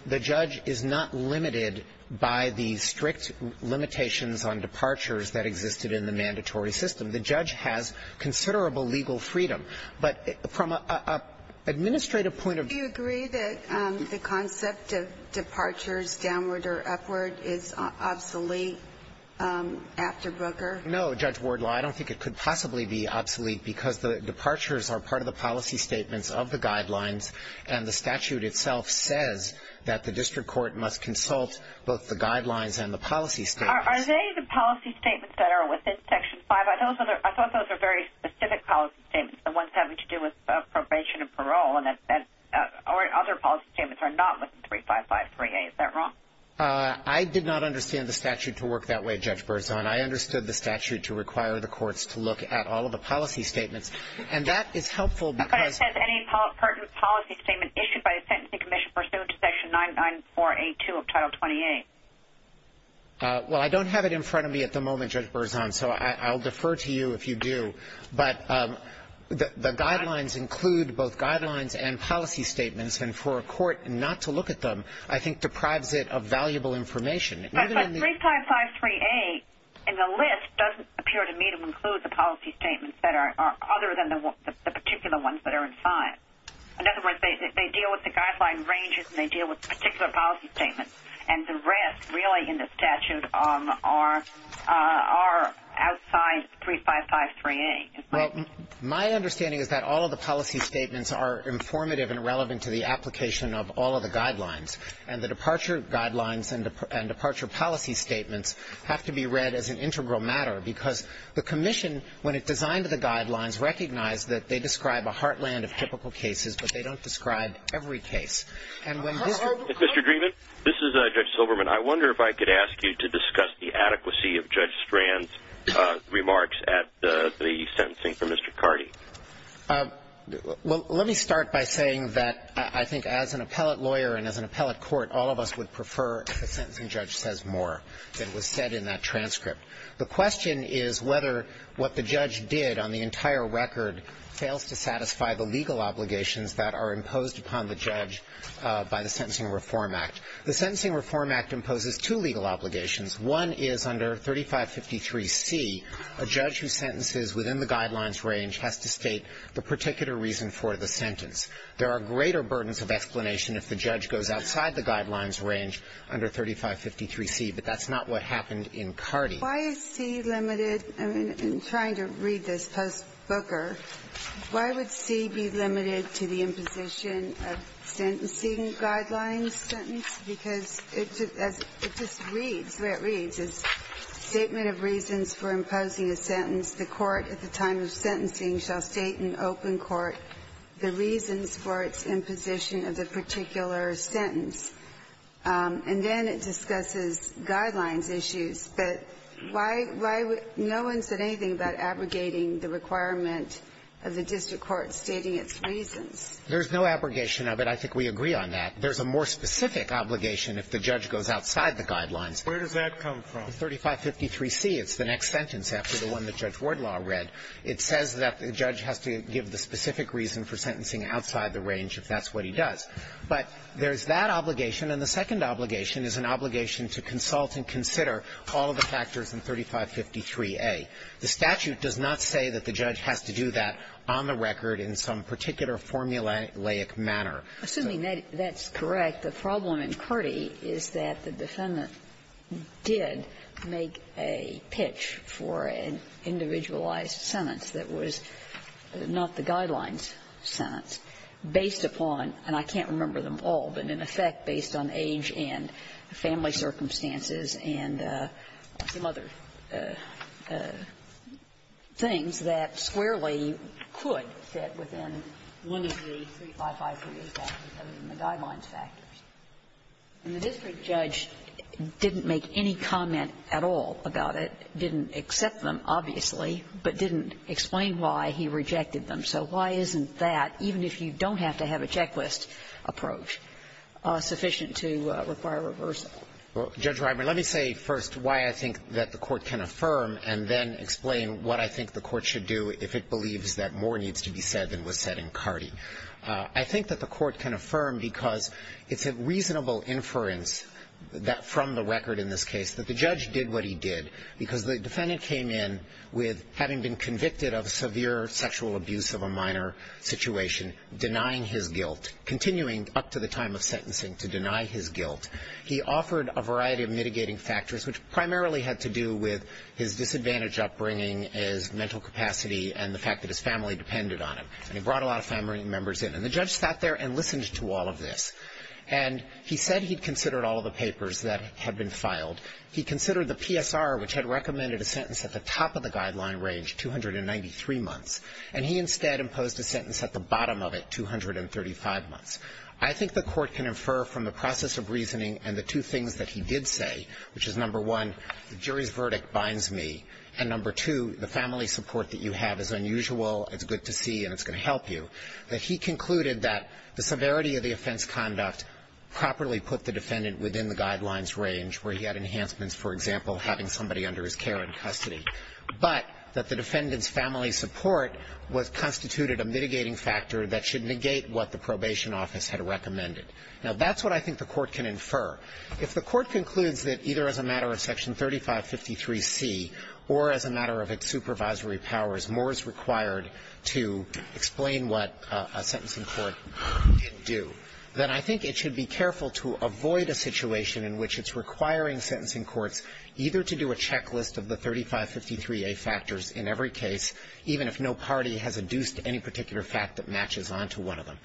the judge is not limited by the strict limitations on departures that existed in the mandatory system. The judge has considerable legal freedom. But from an administrative point of view... Do you agree that the concept of departures downward or upward is obsolete after Booker? No, Judge Wardlaw, I don't think it could possibly be obsolete, because the departures are part of the policy statements of the guidelines, and the statute itself says that the district court must consult both the guidelines and the policy statements. Are they the policy statements that are within Section 5? I thought those were very specific policy statements, the ones having to do with probation and parole, and other policy statements are not within 3553A. Is that wrong? I did not understand the statute to work that way, Judge Berzon. I understood the statute to require the courts to look at all of the policy statements. And that is helpful because... But it says any policy statement issued by the Sentencing Commission pursuant to Section 99482 of Title 28. Well, I don't have it in front of me at the moment, Judge Berzon, so I'll defer to you if you do. But the guidelines include both guidelines and policy statements, and for a court not to look at them I think deprives it of valuable information. But 3553A in the list doesn't appear to me to include the policy statements that are other than the particular ones that are in 5. In other words, they deal with the guideline ranges and they deal with particular policy statements. And the rest really in the statute are outside 3553A. Well, my understanding is that all of the policy statements are informative and relevant to the application of all of the guidelines. And the departure guidelines and departure policy statements have to be read as an integral matter because the Commission, when it's designed to the guidelines, recognizes that they describe a heartland of typical cases, but they don't describe every case. Mr. Dreeben, this is Judge Silverman. I wonder if I could ask you to discuss the adequacy of Judge Strand's remarks at the sentencing for Mr. Carney. Well, let me start by saying that I think as an appellate lawyer and as an appellate court, all of us would prefer if the sentencing judge says more than was said in that transcript. The question is whether what the judge did on the entire record fails to satisfy the legal obligations that are imposed upon the judge by the Sentencing Reform Act. The Sentencing Reform Act imposes two legal obligations. One is under 3553C, a judge who sentences within the guidelines range has to state the particular reason for the sentence. There are greater burdens of explanation if the judge goes outside the guidelines range under 3553C, but that's not what happened in Carney. Why is C limited? I'm trying to read this post-booker. Why would C be limited to the imposition of sentencing guidelines sentence? Because it just reads where it reads. Statement of reasons for imposing a sentence, the court at the time of sentencing shall state in open court the reasons for its imposition of the particular sentence. And then it discusses guidelines issues, but no one said anything about abrogating the requirement of the district court stating its reasons. There's no abrogation of it. I think we agree on that. There's a more specific obligation if the judge goes outside the guidelines. Where does that come from? 3553C. It's the next sentence after the one that Judge Wardlaw read. It says that the judge has to give the specific reason for sentencing outside the range if that's what he does. But there's that obligation, and the second obligation is an obligation to consult and consider all the factors in 3553A. The statute does not say that the judge has to do that on the record in some particular formulaic manner. Assuming that that's correct, the problem in Carney is that the defendant did make a pitch for an individualized sentence that was not the guidelines sentence based upon and I can't remember them all, but in effect based on age and family circumstances and some other things that squarely could fit within one of the 3553A guidelines factors. And the district judge didn't make any comment at all about it. Didn't accept them, obviously, but didn't explain why he rejected them. So why isn't that, even if you don't have to have a checklist approach, sufficient to require reversal? Well, Judge Ryburn, let me say first why I think that the court can affirm and then explain what I think the court should do if it believes that more needs to be said than was said in Carney. I think that the court can affirm because it's a reasonable inference from the record in this case that the judge did what he did because the defendant came in with having been convicted of severe sexual abuse of a minor situation, denying his guilt, continuing up to the time of sentencing to deny his guilt. He offered a variety of mitigating factors, which primarily had to do with his disadvantaged upbringing, his mental capacity, and the fact that his family depended on it. And he brought a lot of family members in. And the judge sat there and listened to all of this. And he said he considered all the papers that had been filed. He considered the PSR, which had recommended a sentence at the top of the guideline range, 293 months. And he instead imposed a sentence at the bottom of it, 235 months. I think the court can infer from the process of reasoning and the two things that he did say, which is number one, the jury's verdict binds me, and number two, the family support that you have is unusual, it's good to see, and it's going to help you, that he concluded that the severity of the offense conduct properly put the defendant within the guidelines range where he had enhancements, for example, having somebody under his care in custody, but that the defendant's family support constituted a mitigating factor that should negate what the probation office had recommended. Now, that's what I think the court can infer. If the court concludes that either as a matter of Section 3553C or as a matter of its supervisory powers, more is required to explain what a sentencing court can do, then I think it should be careful to avoid a situation in which it's requiring sentencing courts either to do a checklist of the 3553A factors in every case, even if no party has adduced any particular fact that matches onto one of them.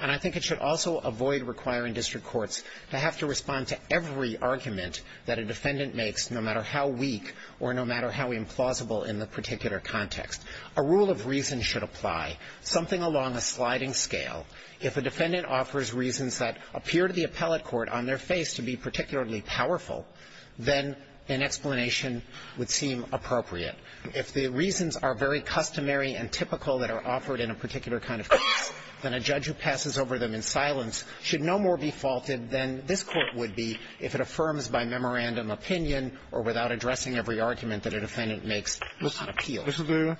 And I think it should also avoid requiring district courts to have to respond to every argument that a defendant makes, no matter how weak or no matter how implausible in the particular context. A rule of reason should apply, something along a sliding scale. If a defendant offers reasons that appear to the appellate court on their face to be particularly powerful, then an explanation would seem appropriate. If the reasons are very customary and typical that are offered in a particular kind of case, then a judge who passes over them in silence should no more be faulted than this court would be if it affirms by memorandum opinion or without addressing every argument that a defendant makes. Mr. Durian,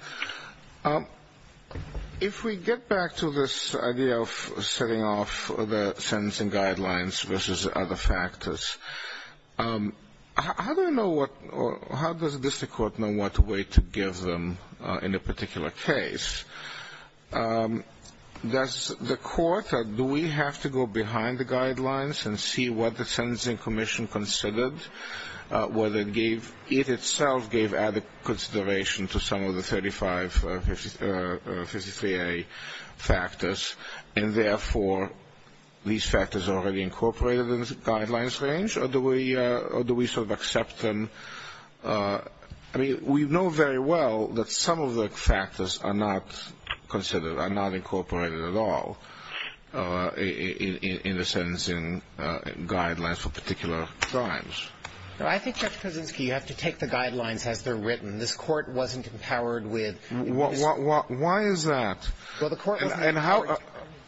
if we get back to this idea of setting off the sentencing guidelines versus other factors, how does the district court know what way to give them in a particular case? Does the court or do we have to go behind the guidelines and see what the sentencing commission considered, whether it itself gave added consideration to some of the 35 fiscal year factors, and therefore these factors are already incorporated in the guidelines range, or do we sort of accept them? I mean, we know very well that some of the factors are not considered, are not incorporated at all, in the sentencing guidelines for particular crimes. Well, I think, Judge Kaczynski, you have to take the guidelines as they're written. This court wasn't empowered with- Why is that? So the court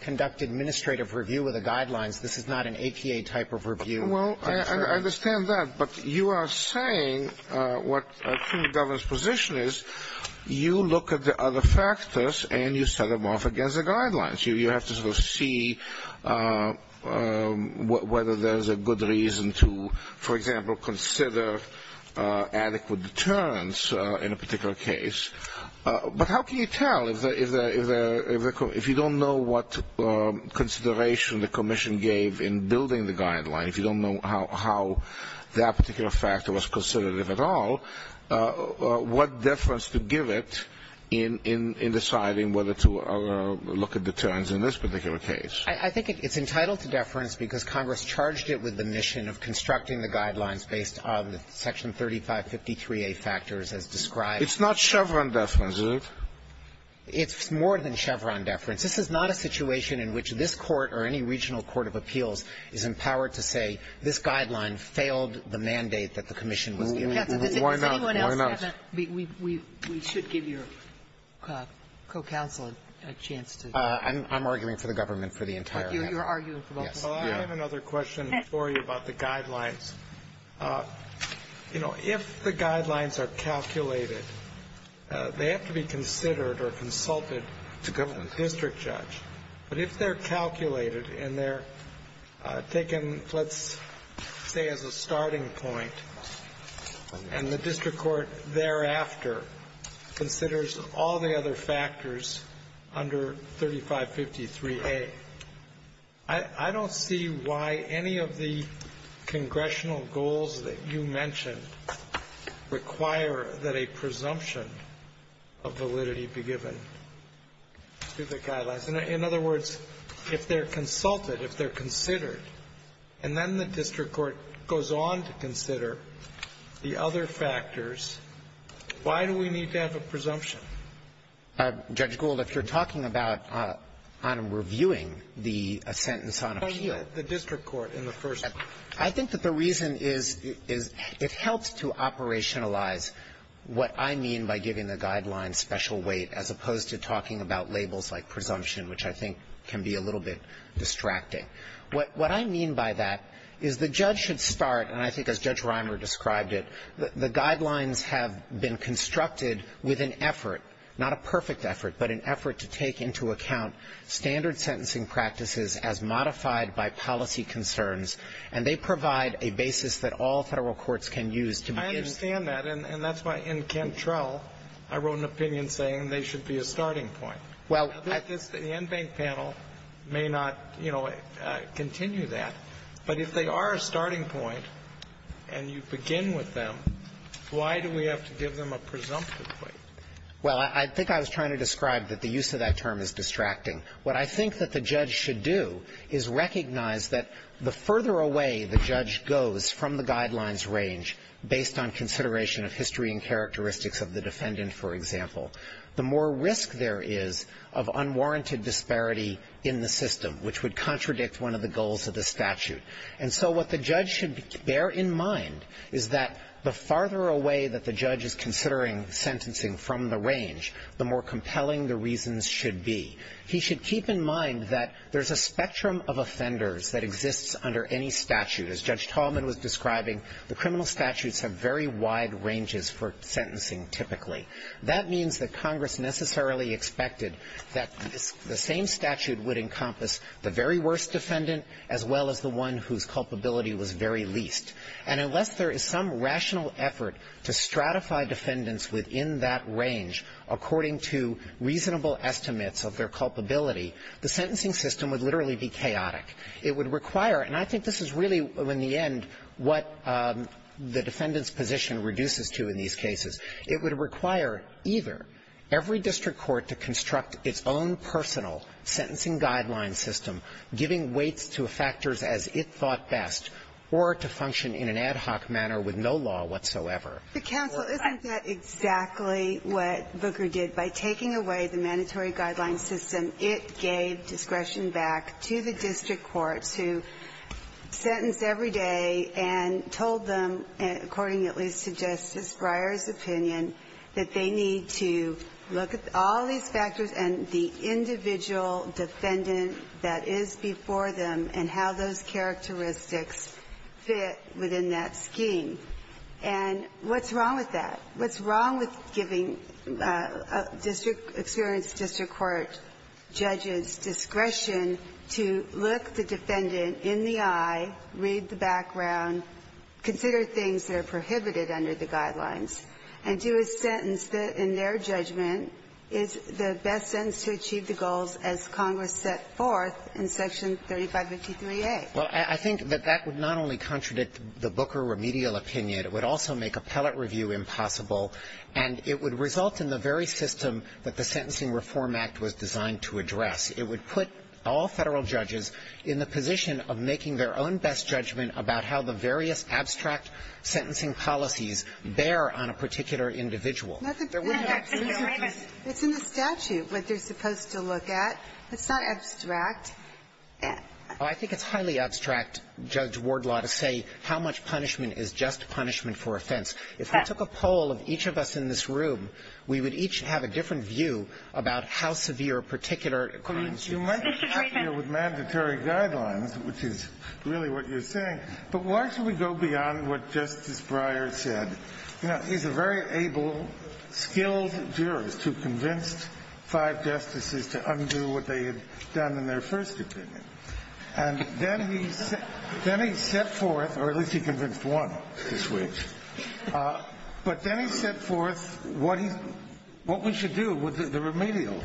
conducted administrative review of the guidelines. This is not an HEA type of review. Well, I understand that, but you are saying what the government's position is, you look at the other factors and you set them off against the guidelines. You have to sort of see whether there is a good reason to, for example, consider adequate deterrence in a particular case. But how can you tell if you don't know what consideration the commission gave in building the guidelines, you don't know how that particular factor was considered at all, what deference to give it in deciding whether to look at deterrence in this particular case? I think it's entitled to deference because Congress charged it with the mission of constructing the guidelines based on Section 3553A factors as described. It's not Chevron deference, is it? It's more than Chevron deference. This is not a situation in which this court or any regional court of appeals is empowered to say, this guideline failed the mandate that the commission would have. Why not? We should give your co-counsel a chance to. I'm arguing for the government for the entire time. You're arguing for both of them. I have another question for you about the guidelines. If the guidelines are calculated, they have to be considered or consulted to go to the district judge. But if they're calculated and they're taken, let's say, as a starting point and the district court thereafter considers all the other factors under 3553A, I don't see why any of the congressional goals that you mentioned require that a presumption of validity be given to the guidelines. In other words, if they're consulted, if they're considered, and then the district court goes on to consider the other factors, why do we need to have a presumption? Judge Gould, if you're talking about reviewing the sentence on appeal. The district court in the first place. I think that the reason is it helps to operationalize what I mean by giving a guideline special weight as opposed to talking about labels like presumption, which I think can be a little bit distracting. What I mean by that is the judge should start, and I think as Judge Reimer described it, the guidelines have been constructed with an effort, not a perfect effort, but an effort to take into account standard sentencing practices as modified by policy concerns. And they provide a basis that all federal courts can use to begin. I understand that. And that's why in Cantrell, I wrote an opinion saying they should be a starting point. Well, the NBANES panel may not continue that. But if they are a starting point and you begin with them, why do we have to give them a presumption? Well, I think I was trying to describe that the use of that term is distracting. What I think that the judge should do is recognize that the further away the judge goes from the guidelines range based on consideration of history and characteristics of the defendant, for example, the more risk there is of unwarranted disparity in the system, which would contradict one of the goals of the statute. And so what the judge should bear in mind is that the farther away that the judge is considering sentencing from the range, the more compelling the reasons should be. He should keep in mind that there's a spectrum of offenders that exists under any statute. As Judge Tallman was describing, the criminal statutes have very wide ranges for sentencing typically. That means that Congress necessarily expected that the same statute would encompass the very worst defendant as well as the one whose culpability was very least. And unless there is some rational effort to stratify defendants within that range, according to reasonable estimates of their culpability, the sentencing system would literally be chaotic. It would require, and I think this is really in the end what the defendant's position reduces to in these cases, it would require either every district court to construct its own personal sentencing guideline system, giving weight to factors as it thought best, or to function in an ad hoc manner with no law whatsoever. Counsel, isn't that exactly what Booker did? By taking away the mandatory guideline system, it gave discretion back to the district court to sentence every day and told them, according at least to Justice Breyer's opinion, that they need to look at all these factors and the individual defendant that is before them and how those characteristics fit within that scheme. And what's wrong with that? By taking district court judges' discretion to look the defendant in the eye, read the background, consider things that are prohibited under the guidelines, and do a sentence in their judgment is the best sense to achieve the goals as Congress set forth in Section 35 of the TPA. Well, I think that that would not only contradict the Booker remedial opinion, it would also make appellate review impossible, and it would result in the very system that the Sentencing Reform Act was designed to address. It would put all federal judges in the position of making their own best judgment about how the various abstract sentencing policies bear on a particular individual. It's in the statute what they're supposed to look at. It's not abstract. I think it's highly abstract, Judge Wardlaw, to say how much punishment is just punishment for offense. If we took a poll of each of us in this room, we would each have a different view about how severe a particular crime is. You might have to deal with mandatory guidelines, which is really what you're saying, but why should we go beyond what Justice Breyer said? You know, he's a very able, skilled jurist who convinced five justices to undo what they had done in their first opinion. And then he set forth, or at least he convinced one this week, but then he set forth what we should do with the remedial,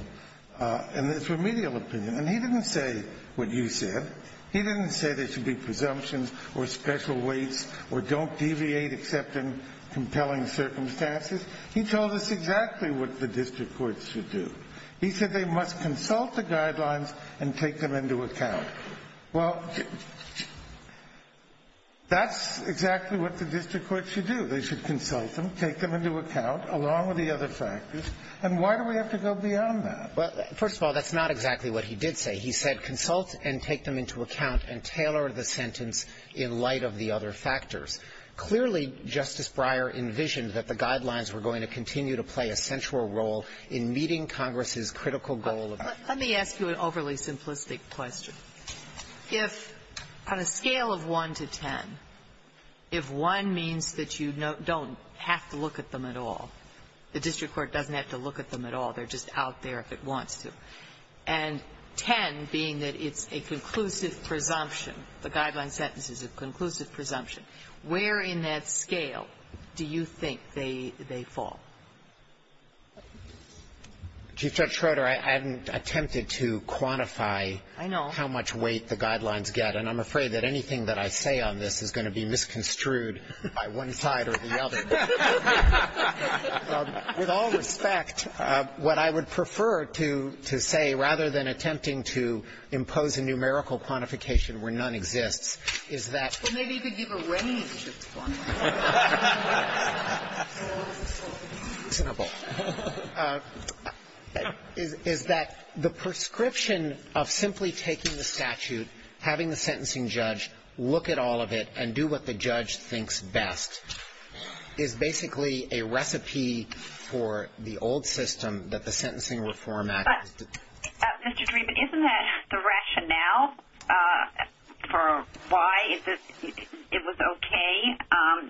and this remedial opinion. And he didn't say what you said. He didn't say there should be presumptions or special weights or don't deviate except in compelling circumstances. He told us exactly what the district courts should do. He said they must consult the guidelines and take them into account. Well, that's exactly what the district courts should do. They should consult them, take them into account, along with the other factors. And why do we have to go beyond that? Well, first of all, that's not exactly what he did say. He said consult and take them into account and tailor the sentence in light of the other factors. Clearly, Justice Breyer envisioned that the guidelines were going to continue to play a central role in meeting Congress's critical goal. Let me ask you an overly simplistic question. If on a scale of 1 to 10, if 1 means that you don't have to look at them at all, the district court doesn't have to look at them at all. They're just out there if it wants to. And 10 being that it's a conclusive presumption, the guideline sentence is a conclusive presumption, where in that scale do you think they fall? Chief Judge Schroeder, I haven't attempted to quantify how much weight the guidelines get, and I'm afraid that anything that I say on this is going to be misconstrued by one side or the other. With all respect, what I would prefer to say, rather than attempting to impose a numerical quantification where none exists, is that the prescription of simply taking the statute, having the sentencing judge look at all of it, and do what the judge thinks best is basically a recipe for the old system that the sentencing would format. Mr. Dreeben, isn't that the rationale for why it was okay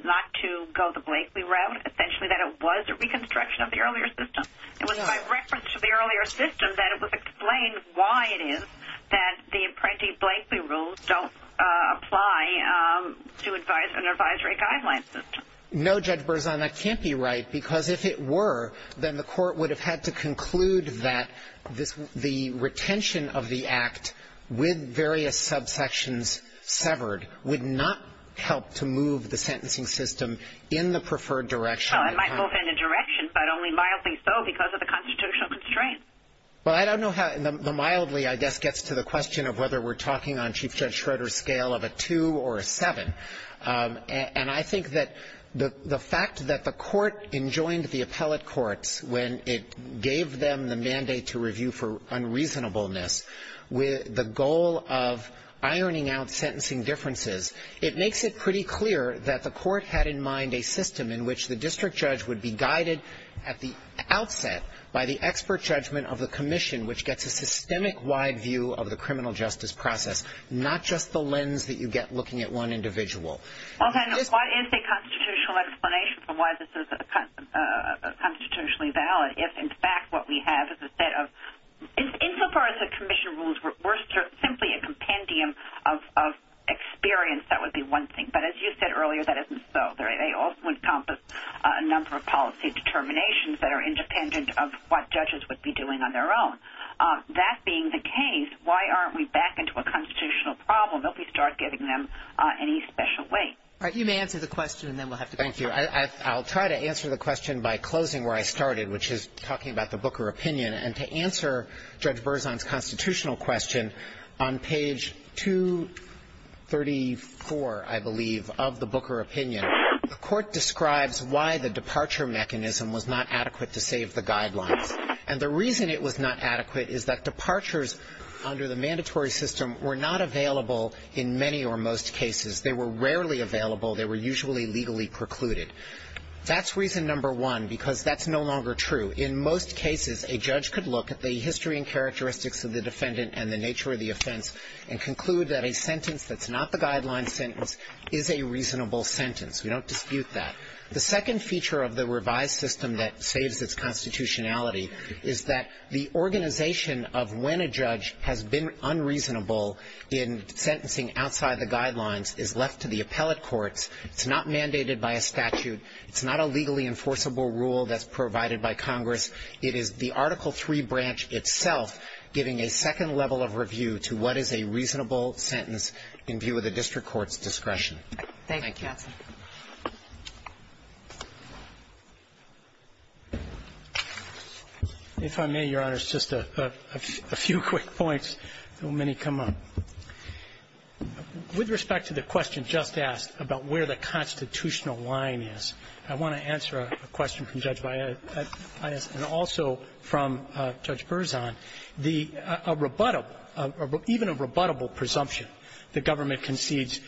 not to go the Blakely route, essentially that it was a reconstruction of the earlier system? It was a reference to the earlier system that it would explain why it is that the apprentice Blakely rules don't apply to advise an advisory guideline system. No, Judge Berzon, that can't be right, because if it were, then the court would have had to conclude that the retention of the act with various subsections severed would not help to move the sentencing system in the preferred direction. It might go in the direction, but only mildly so because of the constitutional constraints. Well, I don't know how the mildly, I guess, gets to the question of whether we're talking on Chief Judge Schroeder's scale of a two or a seven, and I think that the fact that the court enjoined the appellate courts when it gave them the mandate to review for unreasonableness with the goal of ironing out sentencing differences, it makes it pretty clear that the court had in mind a system in which the district judge would be guided at the outset by the expert judgment of the commission, which gets a systemic wide view of the criminal justice process, not just the lens that you get looking at one individual. Okay, so what is the constitutional explanation for why this is constitutionally valid if, in fact, what we have is a set of, insofar as the commission rules were simply a compendium of experience, that would be one thing, but as you said earlier, that isn't so. They also encompass a number of policy determinations that are independent of what judges would be doing on their own. That being the case, why aren't we back into a constitutional problem? Don't we start giving them any special weight? All right, you may answer the question, and then we'll have to thank you. I'll try to answer the question by closing where I started, which is talking about the Booker opinion, and to answer Judge Berzon's constitutional question, on page 234, I believe, of the Booker opinion, the court describes why the departure mechanism was not adequate to save the guidelines, and the reason it was not adequate is that departures under the mandatory system were not available in many or most cases. They were rarely available. They were usually legally precluded. That's reason number one, because that's no longer true. In most cases, a judge could look at the history and characteristics of the defendant and the nature of the offense and conclude that a sentence that's not the guideline sentence is a reasonable sentence. We don't dispute that. The second feature of the revised system that saves its constitutionality is that the organization of when a judge has been unreasonable in sentencing outside the guidelines is left to the appellate courts. It's not mandated by a statute. It's not a legally enforceable rule that's provided by Congress. It is the Article III branch itself giving a second level of review to what is a reasonable sentence in view of the district court's discretion. Thank you. Thank you. If I may, Your Honors, just a few quick points. How many come up? With respect to the question just asked about where the constitutional line is, I want to answer a question from Judge Valle and also from Judge Berzon. Even a rebuttable presumption the government concedes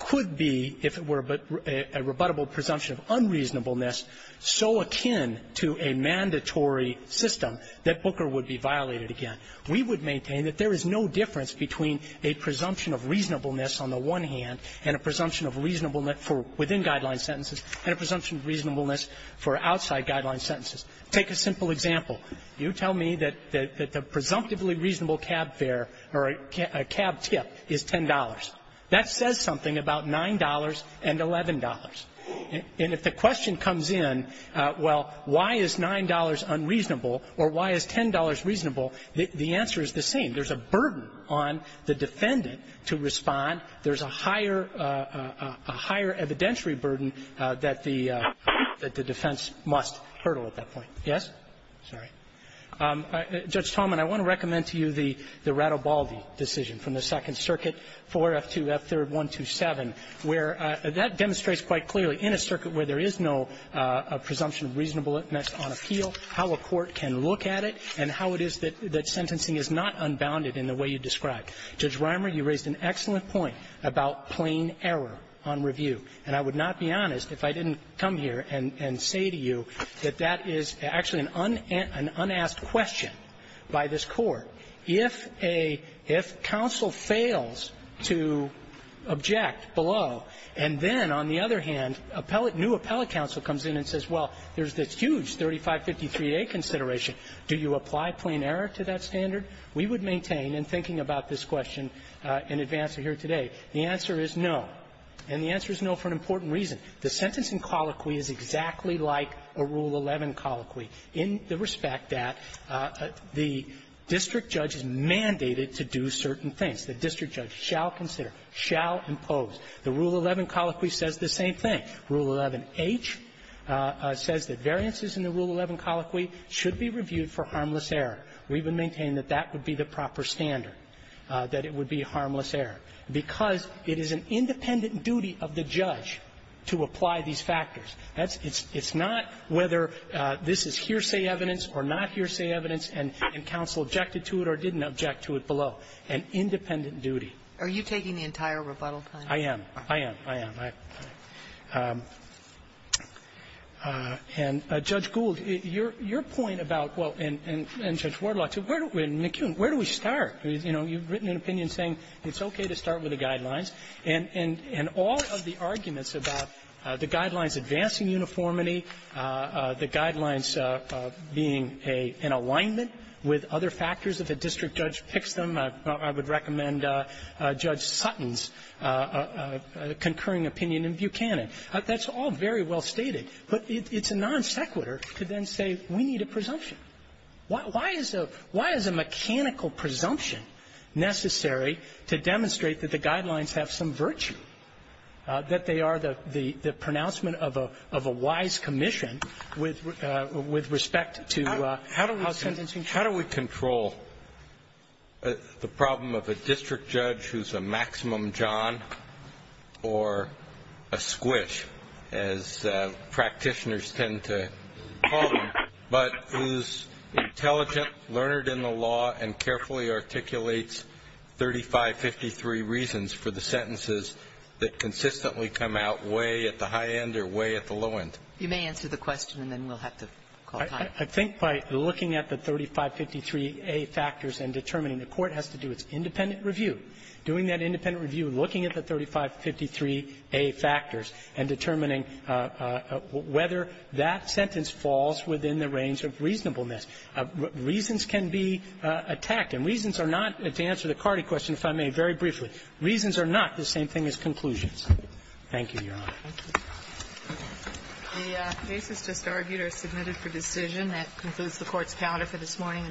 could be, if it were, a rebuttable presumption of unreasonableness so akin to a mandatory system that Booker would be violated again. We would maintain that there is no difference between a presumption of reasonableness on the one hand and a presumption of reasonableness within guideline sentences and a presumption of reasonableness for outside guideline sentences. Take a simple example. You tell me that the presumptively reasonable cab fare or a cab tip is $10. That says something about $9 and $11. And if the question comes in, well, why is $9 unreasonable or why is $10 reasonable, the answer is the same. There's a burden on the defendant to respond. There's a higher evidentiary burden that the defense must hurdle at that point. Yes? Sorry. Judge Tolman, I want to recommend to you the Radovaldi decision from the Second Circuit, 4F2F3R127, where that demonstrates quite clearly in a circuit where there is no presumption of reasonableness on appeal how a court can look at it and how it is that sentencing is not unbounded in the way you described. Judge Reimer, you raised an excellent point about plain error on review. And I would not be honest if I didn't come here and say to you that that is actually an unasked question by this court. If counsel fails to object below and then, on the other hand, new appellate counsel comes in and says, well, there's this huge 3553A consideration, do you apply plain error to that standard? We would maintain in thinking about this question in advance of here today. The answer is no. And the answer is no for an important reason. The sentencing colloquy is exactly like a Rule 11 colloquy in the respect that the district judge is mandated to do certain things. The district judge shall consider, shall impose. The Rule 11 colloquy says the same thing. Rule 11H says that variances in the Rule 11 colloquy should be reviewed for harmless error. We would maintain that that would be the proper standard, that it would be harmless error. Because it is an independent duty of the judge to apply these factors. It's not whether this is hearsay evidence or not hearsay evidence and counsel objected to it or didn't object to it below. An independent duty. Are you taking the entire rebuttal time? I am. I am. I am. And Judge Gould, your point about, well, and Judge Wardlock, where do we start? You've written an opinion saying it's okay to start with the guidelines. And all of the arguments about the guidelines advancing uniformity, the guidelines being in alignment with other factors that the district judge picks them, I would recommend Judge Sutton's concurring opinion in Buchanan. That's all very well stated. But it's a non sequitur to then say we need a presumption. Why is a mechanical presumption necessary to demonstrate that the guidelines have some virtue, that they are the pronouncement of a wise commission with respect to law sentences? How do we control the problem of a district judge who's a maximum John or a squish, as practitioners tend to call them, but who's intelligent, learned in the law, and carefully articulates 3553 reasons for the sentences that consistently come out way at the high end or way at the low end? You may answer the question, and then we'll have to call time. I think by looking at the 3553A factors and determining the court has to do its independent review. Doing that independent review and looking at the 3553A factors and determining whether that sentence falls within the range of reasonableness. Reasons can be attacked. And reasons are not, to answer the Cardi question, if I may, very briefly, reasons are not the same thing as conclusions. Thank you, Your Honor. The cases just argued are submitted for decision. That concludes the court's calendar for this morning.